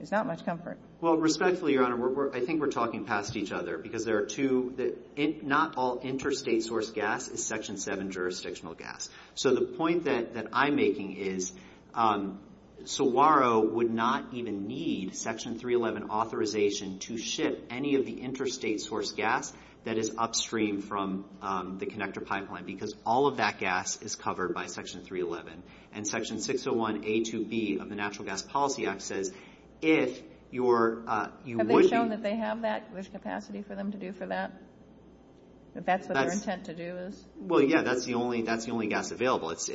is not much comfort. Well, respectfully, Your Honor, I think we're talking past each other, because there are two, not all interstate source gas is Section 7 jurisdictional gas. So the point that I'm making is SOWARO would not even need Section 311 authorization to ship any of the interstate source gas that is upstream from the connector pipeline, because all of that gas is covered by Section 311. And Section 601A2B of the Natural Gas Policy Act says if you're... Have they shown that they have that, there's capacity for them to do for that? That that's what their intent to do is? Well, yeah, that's the only gas available. It's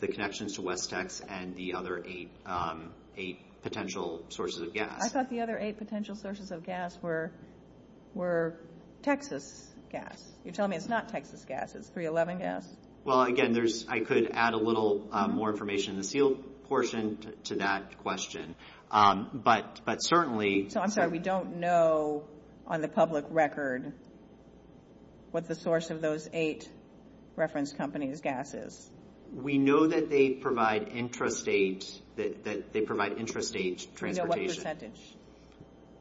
the connections to Westex and the other eight potential sources of gas. I thought the other eight potential sources of gas were Texas gas. You're telling me it's not Texas gas, it's 311 gas? Well, again, I could add a little more information in the SEAL portion to that question. But certainly... So I'm sorry, we don't know on the public record what the source of those eight reference companies' gas is? We know that they provide intrastate transportation. So what percentage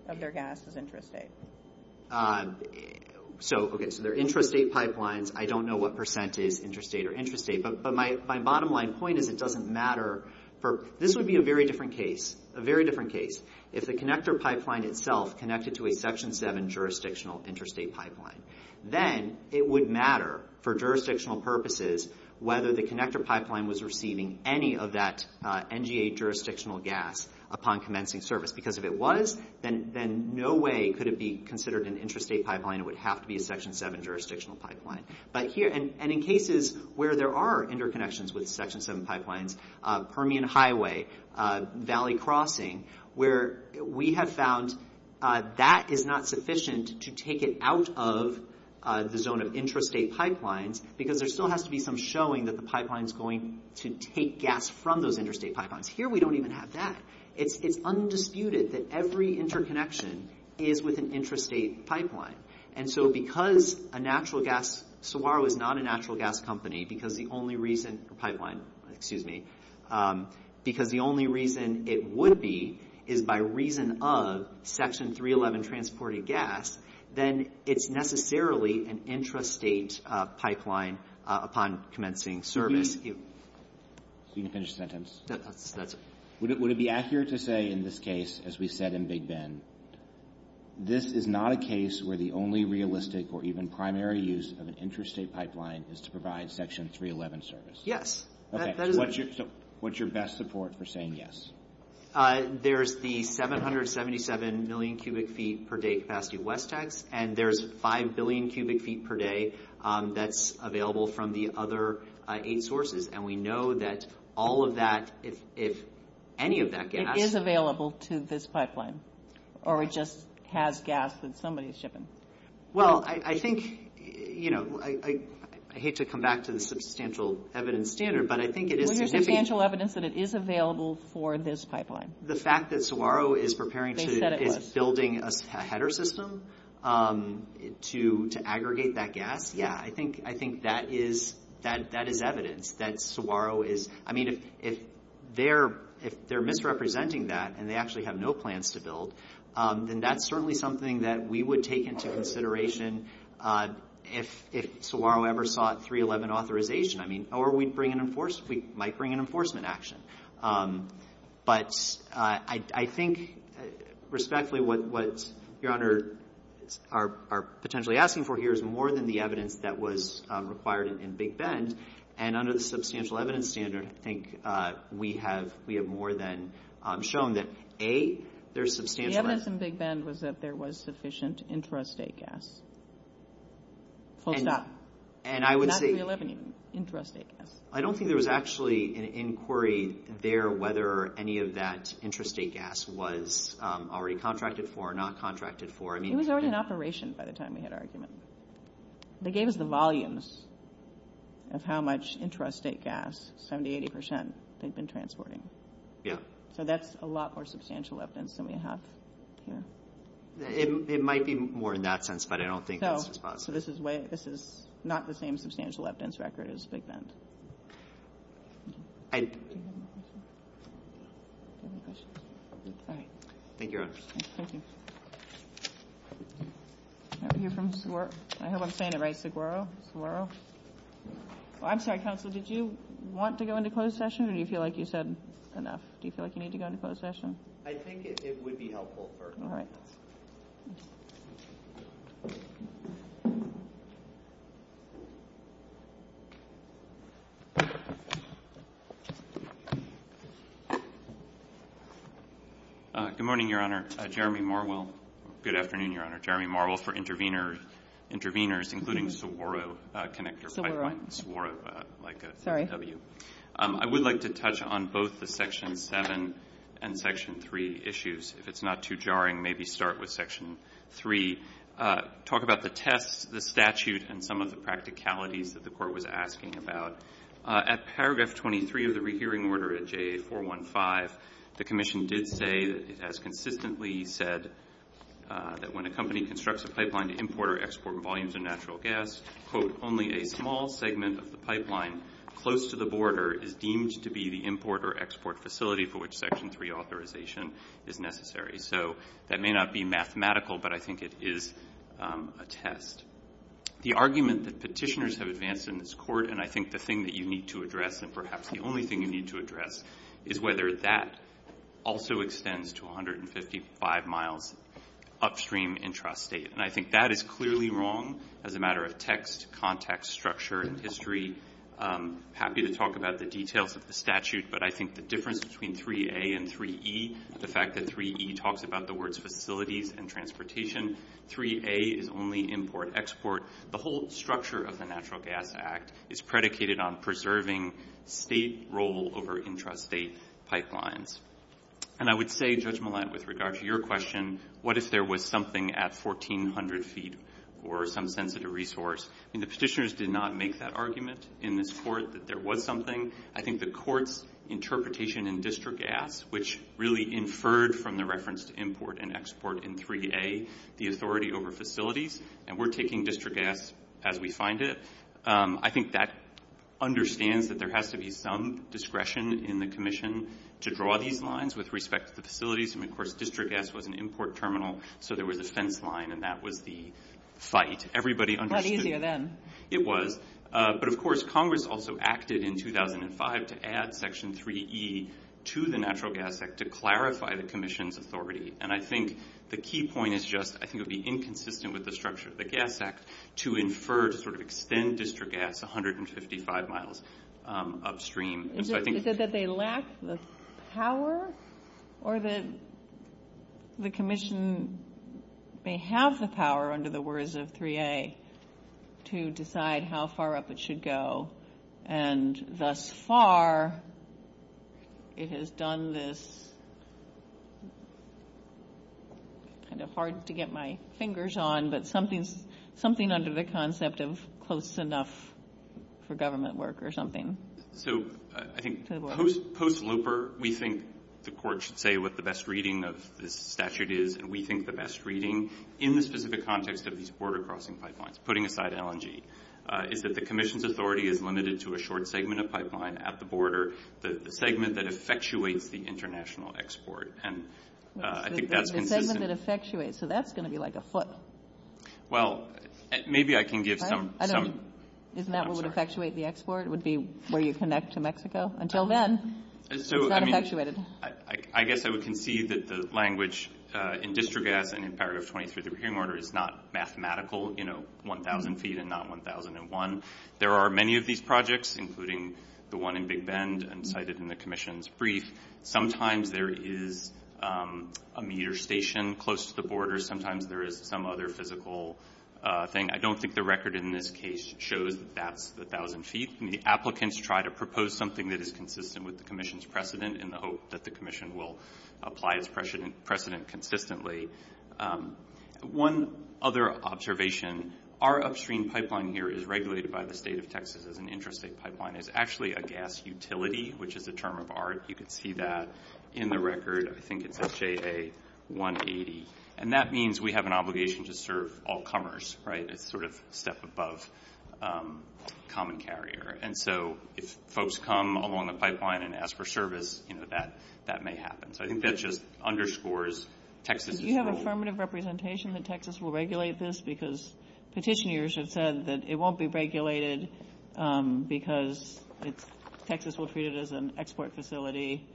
of their gas is intrastate? So, okay, so they're intrastate pipelines. I don't know what percentage is intrastate or intrastate. But my bottom line point is it doesn't matter. This would be a very different case, a very different case. If the connector pipeline itself connected to a Section 7 jurisdictional intrastate pipeline, then it would matter for jurisdictional purposes whether the connector pipeline was receiving any of that NGA jurisdictional gas upon commencing service. Because if it was, then no way could it be considered an intrastate pipeline. It would have to be a Section 7 jurisdictional pipeline. And in cases where there are interconnections with Section 7 pipelines, we have found Permian Highway, Valley Crossing, where we have found that is not sufficient to take it out of the zone of intrastate pipelines because there still has to be some showing that the pipeline is going to take gas from those intrastate pipelines. Here we don't even have that. It's undisputed that every interconnection is with an intrastate pipeline. And so because a natural gas... because it was not a natural gas company, because the only reason it would be is by reason of Section 311 transporting gas, then it's necessarily an intrastate pipeline upon commencing service. So you can finish the sentence. Would it be accurate to say in this case, as we said in Big Ben, this is not a case where the only realistic or even primary use of an intrastate pipeline is to provide Section 311 service? Yes. Okay, so what's your best support for saying yes? There's the 777 million cubic feet per day capacity Westex, and there's 5 billion cubic feet per day that's available from the other eight sources. And we know that all of that, if any of that gas... is available to this pipeline, or it just has gas when somebody's shipping? Well, I think, you know, I hate to come back to the substantial evidence here, but I think it is significant... Well, here's substantial evidence that it is available for this pipeline. The fact that Saguaro is preparing to... They said it was. ...building a header system to aggregate that gas, yeah. I think that is evidence that Saguaro is... I mean, if they're misrepresenting that and they actually have no plans to build, then that's certainly something that we would take into consideration if Saguaro ever sought 311 authorization. I mean, or we might bring an enforcement action. But I think, respectfully, what Your Honor are potentially asking for here is more than the evidence that was required in Big Ben, and under the substantial evidence standard, I think we have more than shown that, A, there's substantial evidence... The evidence in Big Ben was that there was sufficient intrastate gas. Close that. And I would say... Not 311, intrastate gas. I don't think there was actually an inquiry there whether any of that intrastate gas was already contracted for or not contracted for. I mean... It was already in operation by the time we had our argument. They gave us the volumes of how much intrastate gas, 70%, 80% they've been transporting. Yeah. So that's a lot more substantial evidence than we have here. It might be more in that sense, but I don't think that's responsible. So this is not the same substantial evidence record as Big Ben. Thank you, Your Honor. Thank you. Can I hear from Seguro? I hope I'm saying it right. Seguro? Seguro? I'm sorry, counsel, did you want to go into closed session or do you feel like you said enough? Do you feel like you need to go into closed session? I think it would be helpful first. Good morning, Your Honor. Jeremy Marwell. Good afternoon, Your Honor. Jeremy Marwell for intervenors, including Seguro Connector Pipeline. Seguro, like a W. I would like to touch on both the Section 7 and Section 3 issues. If it's not too jarring, maybe start with Section 3. Talk about the test, the statute, and some of the practicalities that the Court was asking about. At paragraph 23 of the rehearing order at JA-415, the Commission did say that it has consistently said that when a company constructs a pipeline to import or export volumes of natural gas, quote, only a small segment of the pipeline close to the border is deemed to be the import or export facility for which Section 3 authorization is necessary. So that may not be mathematical, but I think it is a test. The argument that petitioners have advanced in this Court, and I think the thing that you need to address, and perhaps the only thing you need to address, is whether that also extends to 155 miles upstream intrastate. And I think that is clearly wrong as a matter of text, context, structure, and history. I'm happy to talk about the details of the statute, but I think the difference between 3A and 3E, the fact that 3E talks about the words facility and transportation, 3A is only import-export. The whole structure of the Natural Gas Act is predicated on preserving state role over intrastate pipelines. And I would say, Judge Millett, with regard to your question, what if there was something at 1,400 feet or some sensitive resource? And the petitioners did not make that argument in this Court that there was something. I think the Court's interpretation in District Acts, which really inferred from the reference to import and export in 3A, the authority over facilities, and we're taking District Acts as we find it. I think that understands that there has to be some discretion in the Commission to draw these lines with respect to facilities. And, of course, District Acts was an import terminal, so there was a fence line, and that was the site. It was easier then. It was. But, of course, Congress also acted in 2005 to add Section 3E to the Natural Gas Act to clarify the Commission's authority. And I think the key point is just I think it would be inconsistent with the structure of the Gas Act to infer sort of extend District Acts 155 miles upstream. Is it that they lack the power or that the Commission may have the power, under the words of 3A, to decide how far up it should go? And thus far, it has done this kind of hard to get my fingers on, but something under the concept of close enough for government work or something. So I think post-looper, we think the Court should say what the best reading of the statute is, and we think the best reading in the specific context of these border crossing pipelines, putting aside LMG, is that the Commission's authority is limited to a short segment of pipeline at the border, the segment that effectuates the international export. And I think that's consistent. The segment that effectuates. So that's going to be like a foot. Well, maybe I can give some. Isn't that what would effectuate the export? It would be where you connect to Mexico? Until then, it's not effectuated. I guess I would concede that the language in District Acts and in Paragraph 23 of the Procurement Order is not mathematical, you know, 1,000 feet and not 1,001. There are many of these projects, including the one in Big Bend and cited in the Commission's brief. Sometimes there is a meter station close to the border. Sometimes there is some other physical thing. I don't think the record in this case shows that's 1,000 feet. The applicants try to propose something that is consistent with the Commission's precedent in the hope that the Commission will apply this precedent consistently. One other observation. Our upstream pipeline here is regulated by the State of Texas as an intrastate pipeline. It's actually a gas utility, which is the term of art. You can see that in the record. I think it's SJA 180. And that means we have an obligation to serve all comers, right? It's sort of step above common carrier. And so if folks come along the pipeline and ask for service, you know, that may happen. So I think that just underscores Texas's role. Do you have affirmative representation that Texas will regulate this? Because petitioners have said that it won't be regulated because Texas will treat it as an export facility.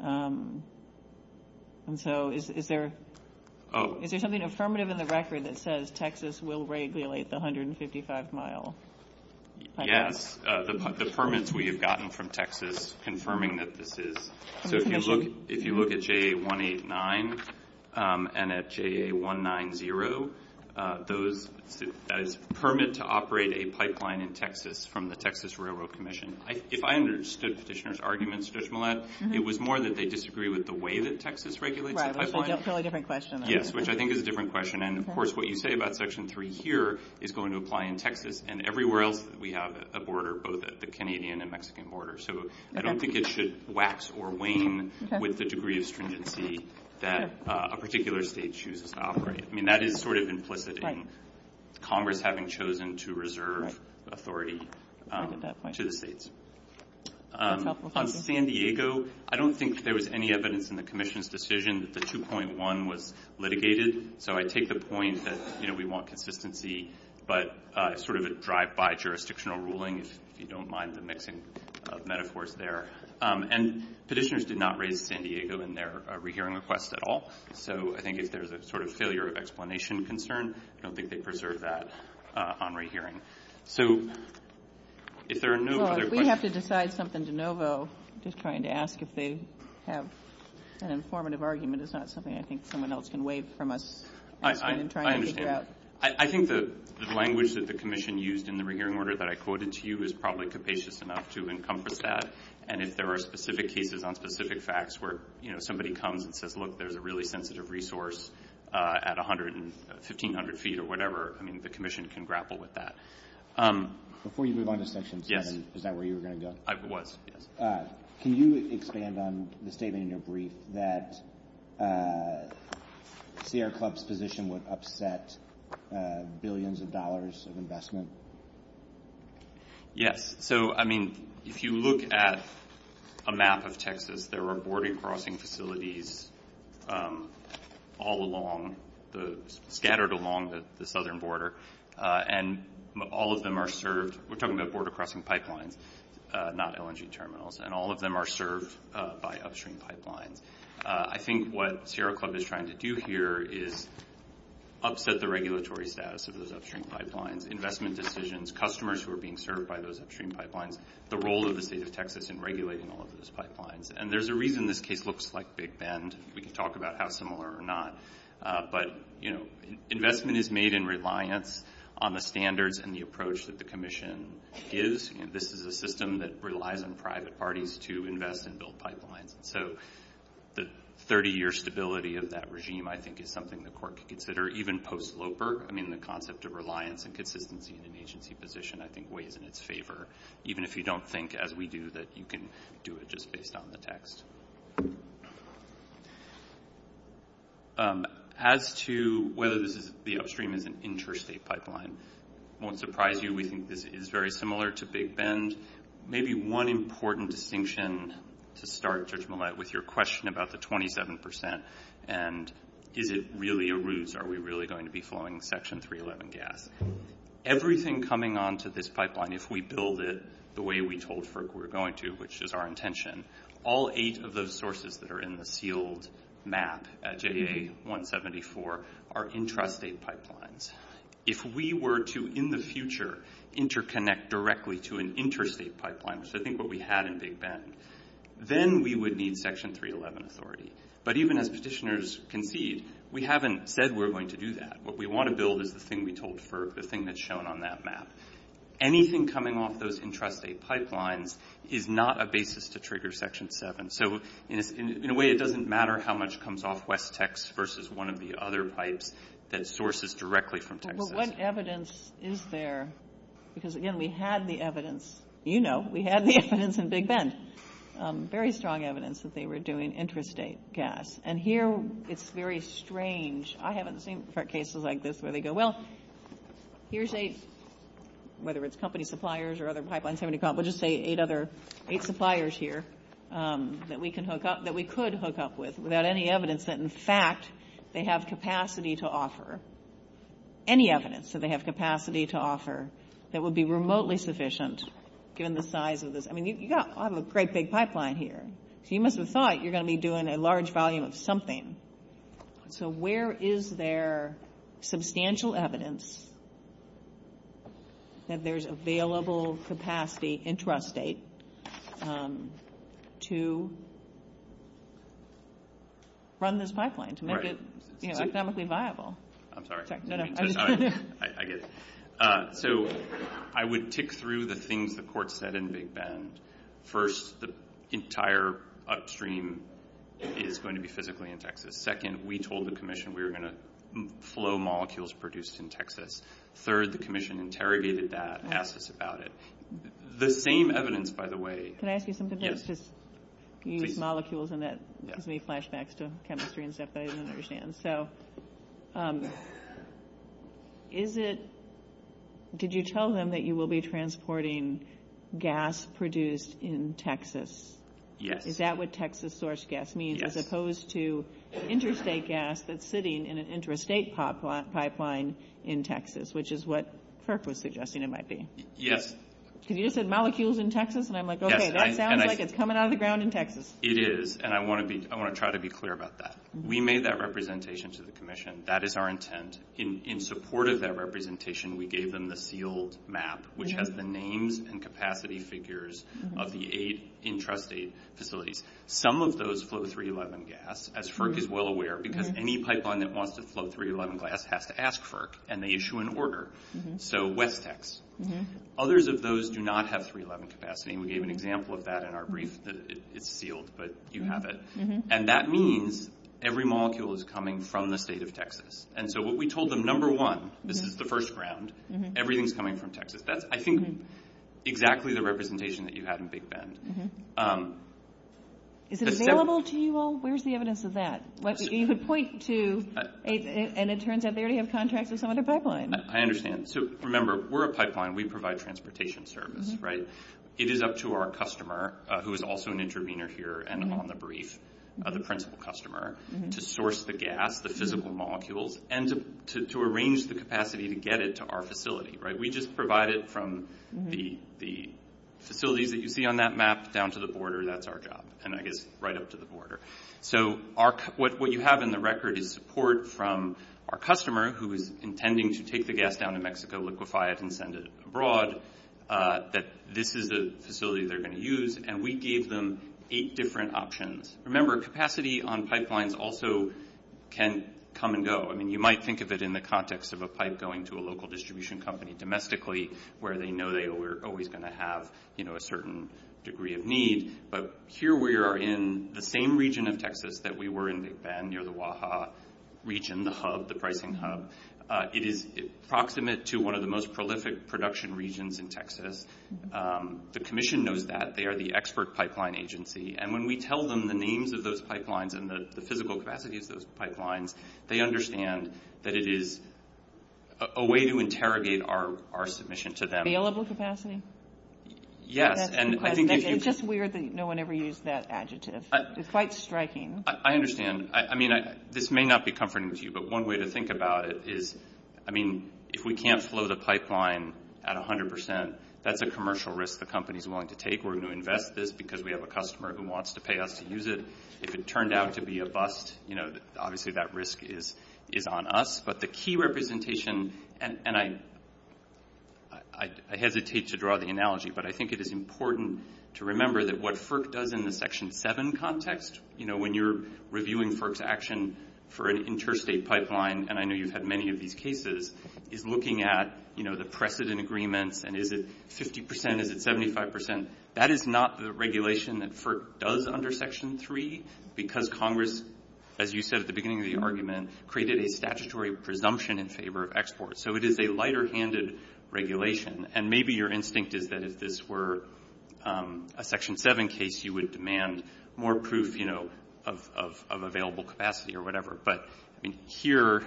And so is there something affirmative in the record that says Texas will regulate the 155-mile pipeline? Yes, the permits we have gotten from Texas confirming that this is. So if you look at JA 189 and at JA 190, those permit to operate a pipeline in Texas from the Texas Railroad Commission. If I understood petitioners' arguments, Judge Millett, it was more that they disagreed with the way that Texas regulates the pipeline. Right, that's a totally different question. Yes, which I think is a different question. And, of course, what you say about Section 3 here is going to apply in Texas and everywhere else we have a border, both the Canadian and Mexican borders. So I don't think it should wax or wane with the degree of stringency that a particular state chooses to operate. I mean, that is sort of implicit in Congress having chosen to reserve authority to the states. On San Diego, I don't think there was any evidence in the commission's decision that the 2.1 was litigated. So I take the point that we want consistency, but sort of a drive-by jurisdictional ruling, if you don't mind the mixing of metaphors there. And petitioners did not raise San Diego in their rehearing request at all. So I think if there is a sort of failure of explanation concern, I don't think they preserved that on rehearing. So if there are no other questions... Well, if we have to decide something de novo, just trying to ask if they have an informative argument is not something I think someone else can waive from us. I understand. I think the language that the commission used in the rehearing order that I quoted to you is probably capacious enough to encompass that. And if there are specific cases on specific facts where, you know, somebody comes and says, look, there's a really sensitive resource at 1,500 feet or whatever, I mean, the commission can grapple with that. Before you move on to Section 7, is that where you were going to go? I was, yes. Can you expand on the statement in your brief that the Air Club's position would upset billions of dollars of investment? Yes. So, I mean, if you look at a map of Texas, there were border crossing facilities all along, scattered along the southern border, and all of them are served... We're talking about border crossing pipelines, not LNG terminals. And all of them are served by upstream pipelines. I think what Sierra Club is trying to do here is upset the regulatory status of those upstream pipelines, investment decisions, customers who are being served by those upstream pipelines, the role of the State of Texas in regulating all of those pipelines. And there's a reason this case looks like Big Bend. We can talk about how similar or not. But, you know, investment is made in reliance on the standards and the approach that the commission gives. This is a system that relies on private parties to invest in built pipelines. So the 30-year stability of that regime, I think, is something the court could consider, even post-sloper. I mean, the concept of reliance and consistency in agency position, I think, weighs in its favor, even if you don't think, as we do, that you can do it just based on the text. As to whether the upstream is an interstate pipeline, it won't surprise you. We think this is very similar to Big Bend. Maybe one important distinction to start, Judge Millett, with your question about the 27 percent and is it really a ruse, are we really going to be flowing Section 311 gas? Everything coming onto this pipeline, if we build it the way we told FERC we were going to, which is our intention, all eight of those sources that are in the sealed map at JDA 174 are intrastate pipelines. If we were to, in the future, interconnect directly to an interstate pipeline, which I think is what we had in Big Bend, then we would need Section 311 authority. But even as petitioners concede, we haven't said we're going to do that. What we want to build is the thing we told FERC, the thing that's shown on that map. Anything coming off those intrastate pipelines is not a basis to trigger Section 7. So, in a way, it doesn't matter how much comes off West Texas versus one of the other pipes that sources directly from Texas. But what evidence is there? Because, again, we had the evidence, you know, we had the evidence in Big Bend, very strong evidence that they were doing intrastate gas. And here it's very strange. I haven't seen cases like this where they go, well, here's eight, whether it's company suppliers or other pipelines, we'll just say eight suppliers here that we could hook up with without any evidence that, in fact, they have capacity to offer. Any evidence that they have capacity to offer that would be remotely sufficient given the size of this. I mean, you've got a great big pipeline here. So you must have thought you're going to be doing a large volume of something. So where is there substantial evidence that there's available capacity intrastate to run this pipeline to make it economically viable? I'm sorry. No, no. I get it. So I would tick through the things the court said in Big Bend. First, the entire upstream is going to be physically in Texas. Second, we told the commission we were going to flow molecules produced in Texas. Third, the commission interrogated that and asked us about it. The same evidence, by the way. Can I ask you something? Yes. You used molecules and that gave me flashbacks to chemistry and stuff that I didn't understand. So did you tell them that you will be transporting gas produced in Texas? Yes. Is that what Texas sourced gas means as opposed to intrastate gas that's sitting in an intrastate pipeline in Texas, which is what Kirk was suggesting it might be? Yes. Because you just said molecules in Texas, and I'm like, okay, that sounds like it's coming out of the ground in Texas. It is, and I want to try to be clear about that. We made that representation to the commission. That is our intent. In support of that representation, we gave them the sealed map, which has the names and capacity figures of the eight intrastate facilities. Some of those flow 311 gas, as FERC is well aware, because any pipeline that wants to flow 311 gas has to ask FERC, and they issue an order. So WETSEX. Others of those do not have 311 capacity. We gave an example of that in our brief. It's sealed, but you have it. And that means every molecule is coming from the state of Texas. And so what we told them, number one, this is the first round, everything's coming from Texas. That's, I think, exactly the representation that you had in Big Bend. Is it available to you all? Where's the evidence of that? You could point to it, and it turns out there you have contracts with some of the pipelines. I understand. So remember, we're a pipeline. We provide transportation service, right? It is up to our customer, who is also an intervener here and on the brief, the principal customer, to source the gas, the physical molecules, and to arrange the capacity to get it to our facility, right? We just provide it from the facility that you see on that map down to the border. That's our job. And I guess right up to the border. So what you have in the record is support from our customer, who is intending to take the gas down to Mexico, liquefy it, and send it abroad, that this is the facility they're going to use. And we gave them eight different options. Remember, capacity on pipelines also can come and go. I mean, you might think of it in the context of a pipe going to a local distribution company domestically, where they know they were always going to have, you know, a certain degree of need. But here we are in the same region of Texas that we were in Big Bend near the Oaxaca region, the hub, the pricing hub. It is proximate to one of the most prolific production regions in Texas. The commission knows that. They are the expert pipeline agency. And when we tell them the names of those pipelines and the physical capacity of those pipelines, they understand that it is a way to interrogate our submission to them. Available capacity? Yes. It's just weird that no one ever used that adjective. It's quite striking. I understand. I mean, this may not be comforting to you, but one way to think about it is, I mean, if we can't flow the pipeline at 100 percent, that's a commercial risk the company is willing to take. We're going to invest this because we have a customer who wants to pay us to use it. If it turns out to be a bust, you know, obviously that risk is on us. But the key representation, and I hesitate to draw the analogy, but I think it is important to remember that what FERC does in the Section 7 context, you know, when you're reviewing FERC's action for an interstate pipeline, and I know you've had many of these cases, is looking at, you know, the precedent agreement, and is it 50 percent, is it 75 percent? That is not the regulation that FERC does under Section 3 because Congress, as you said at the beginning of the argument, created a statutory presumption in favor of exports. So it is a lighter-handed regulation. And maybe your instinct is that if this were a Section 7 case, you would demand more proof, you know, of available capacity or whatever. But here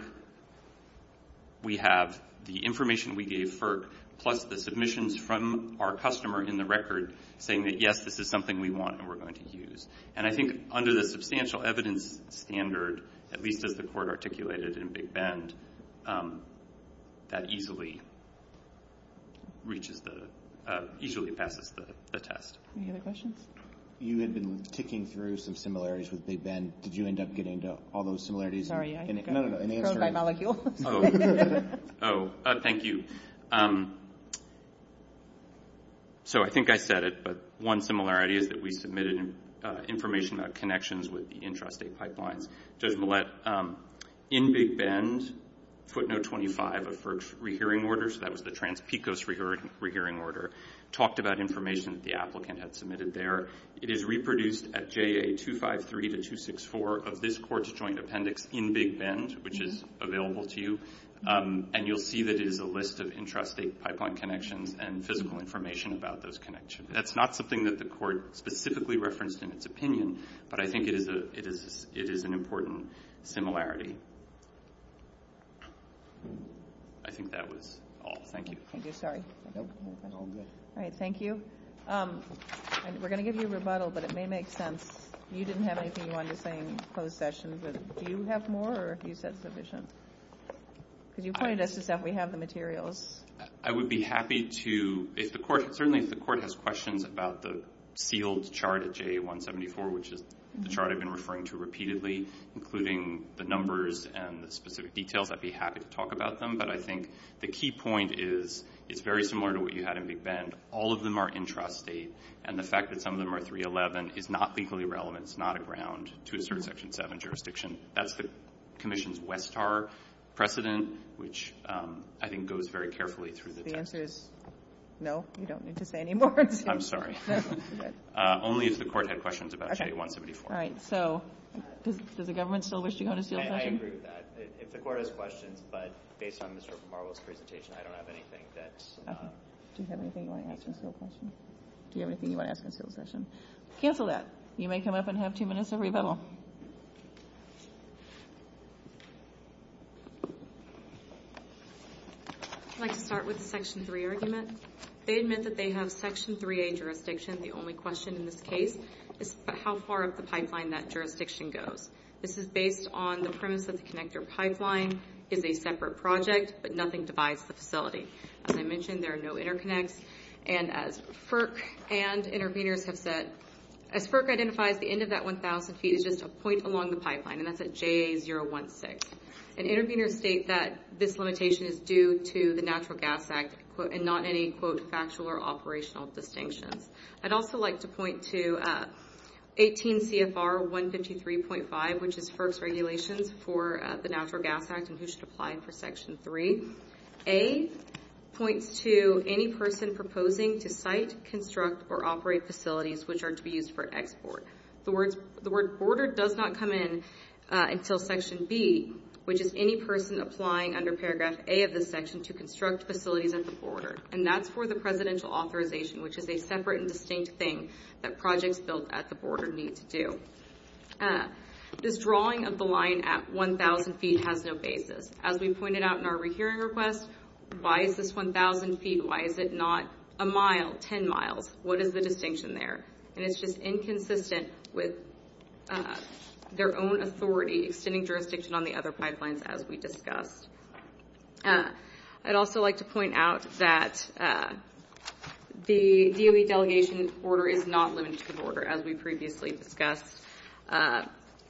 we have the information we gave FERC plus the submissions from our customer in the record saying that, yes, this is something we want and we're going to use. And I think under the substantial evidence standard, at least as the Court articulated in Big Bend, that easily reaches the – easily passes the test. Any other questions? You had been ticking through some similarities with Big Bend. Did you end up getting to all those similarities? Sorry, I'm going by molecule. Oh, thank you. So I think I said it, but one similarity is that we submitted information about connections with the intrastate pipeline. Judge Millett, in Big Bend, footnote 25 of FERC's rehearing order, so that was the Trans-Picos rehearing order, talked about information that the applicant had submitted there. It is reproduced at JA 253 to 264 of this Court's joint appendix in Big Bend, which is available to you. And you'll see that it is a list of intrastate pipeline connections and physical information about those connections. That's not something that the Court specifically referenced in its opinion, but I think it is an important similarity. I think that was all. Thank you. Thank you. Sorry. All right, thank you. We're going to give you a rebuttal, but it may make sense. You didn't have anything you wanted to say in closed session, but do you have more or have you said sufficient? Because you pointed us to stuff. We have the materials. I would be happy to, if the Court, certainly if the Court has questions about the fields chart at JA 174, which is the chart I've been referring to repeatedly, including the numbers and the specific details, I'd be happy to talk about them. But I think the key point is it's very similar to what you had in Big Bend. All of them are intrastate, and the fact that some of them are 311 is not legally relevant. It's not a ground to assert Section 7 jurisdiction. That's the Commission's Westar precedent, which I think goes very carefully through the text. The answer is no, you don't need to say any more. I'm sorry. Only if the Court had questions about JA 174. All right, so does the government still wish to go to sealed session? I agree with that. If the Court has questions, but based on Mr. Marwell's presentation, I don't have anything that's... Do you have anything you want to ask in sealed session? Do you have anything you want to ask in sealed session? Cancel that. You may come up and have two minutes to rebuttal. I'd like to start with the Section 3 argument. They admit that they have Section 3A jurisdiction. The only question in this case is how far up the pipeline that jurisdiction goes. This is based on the premise that the connector pipeline is a separate project, but nothing divides the facility. As I mentioned, there are no interconnects. And as FERC and intervenors have said, as FERC identified, the end of that 1,000 feet is just a point along the pipeline. And that's at JA 016. And intervenors state that this limitation is due to the Natural Gas Act and not any, quote, factual or operational distinction. I'd also like to point to 18 CFR 153.5, which is FERC's regulations for the Natural Gas Act, and this should apply for Section 3. Section 3A points to any person proposing to site, construct, or operate facilities which are to be used for export. The word border does not come in until Section B, which is any person applying under Paragraph A of this section to construct facilities at the border. And that's for the presidential authorization, which is a separate and distinct thing that projects built at the border need to do. This drawing of the line at 1,000 feet has no basis. As we pointed out in our rehearing request, why is this 1,000 feet? Why is it not a mile, 10 miles? What is the distinction there? And it's just inconsistent with their own authority extending jurisdiction on the other pipelines, as we discussed. I'd also like to point out that the DOE delegation's border is not limited to the border, as we previously discussed.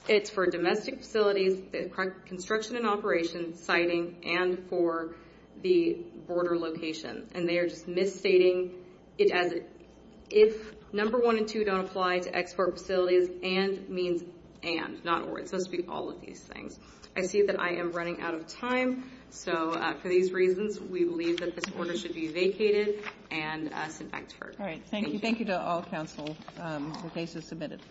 It's for domestic facilities, construction and operations, siting, and for the border location. And they are just misstating it as if number one and two don't apply to export facilities, and means and, not or. It goes through all of these things. I see that I am running out of time, so for these reasons, we believe that this order should be vacated and as an export. All right, thank you. Thank you to all councils. The case is submitted.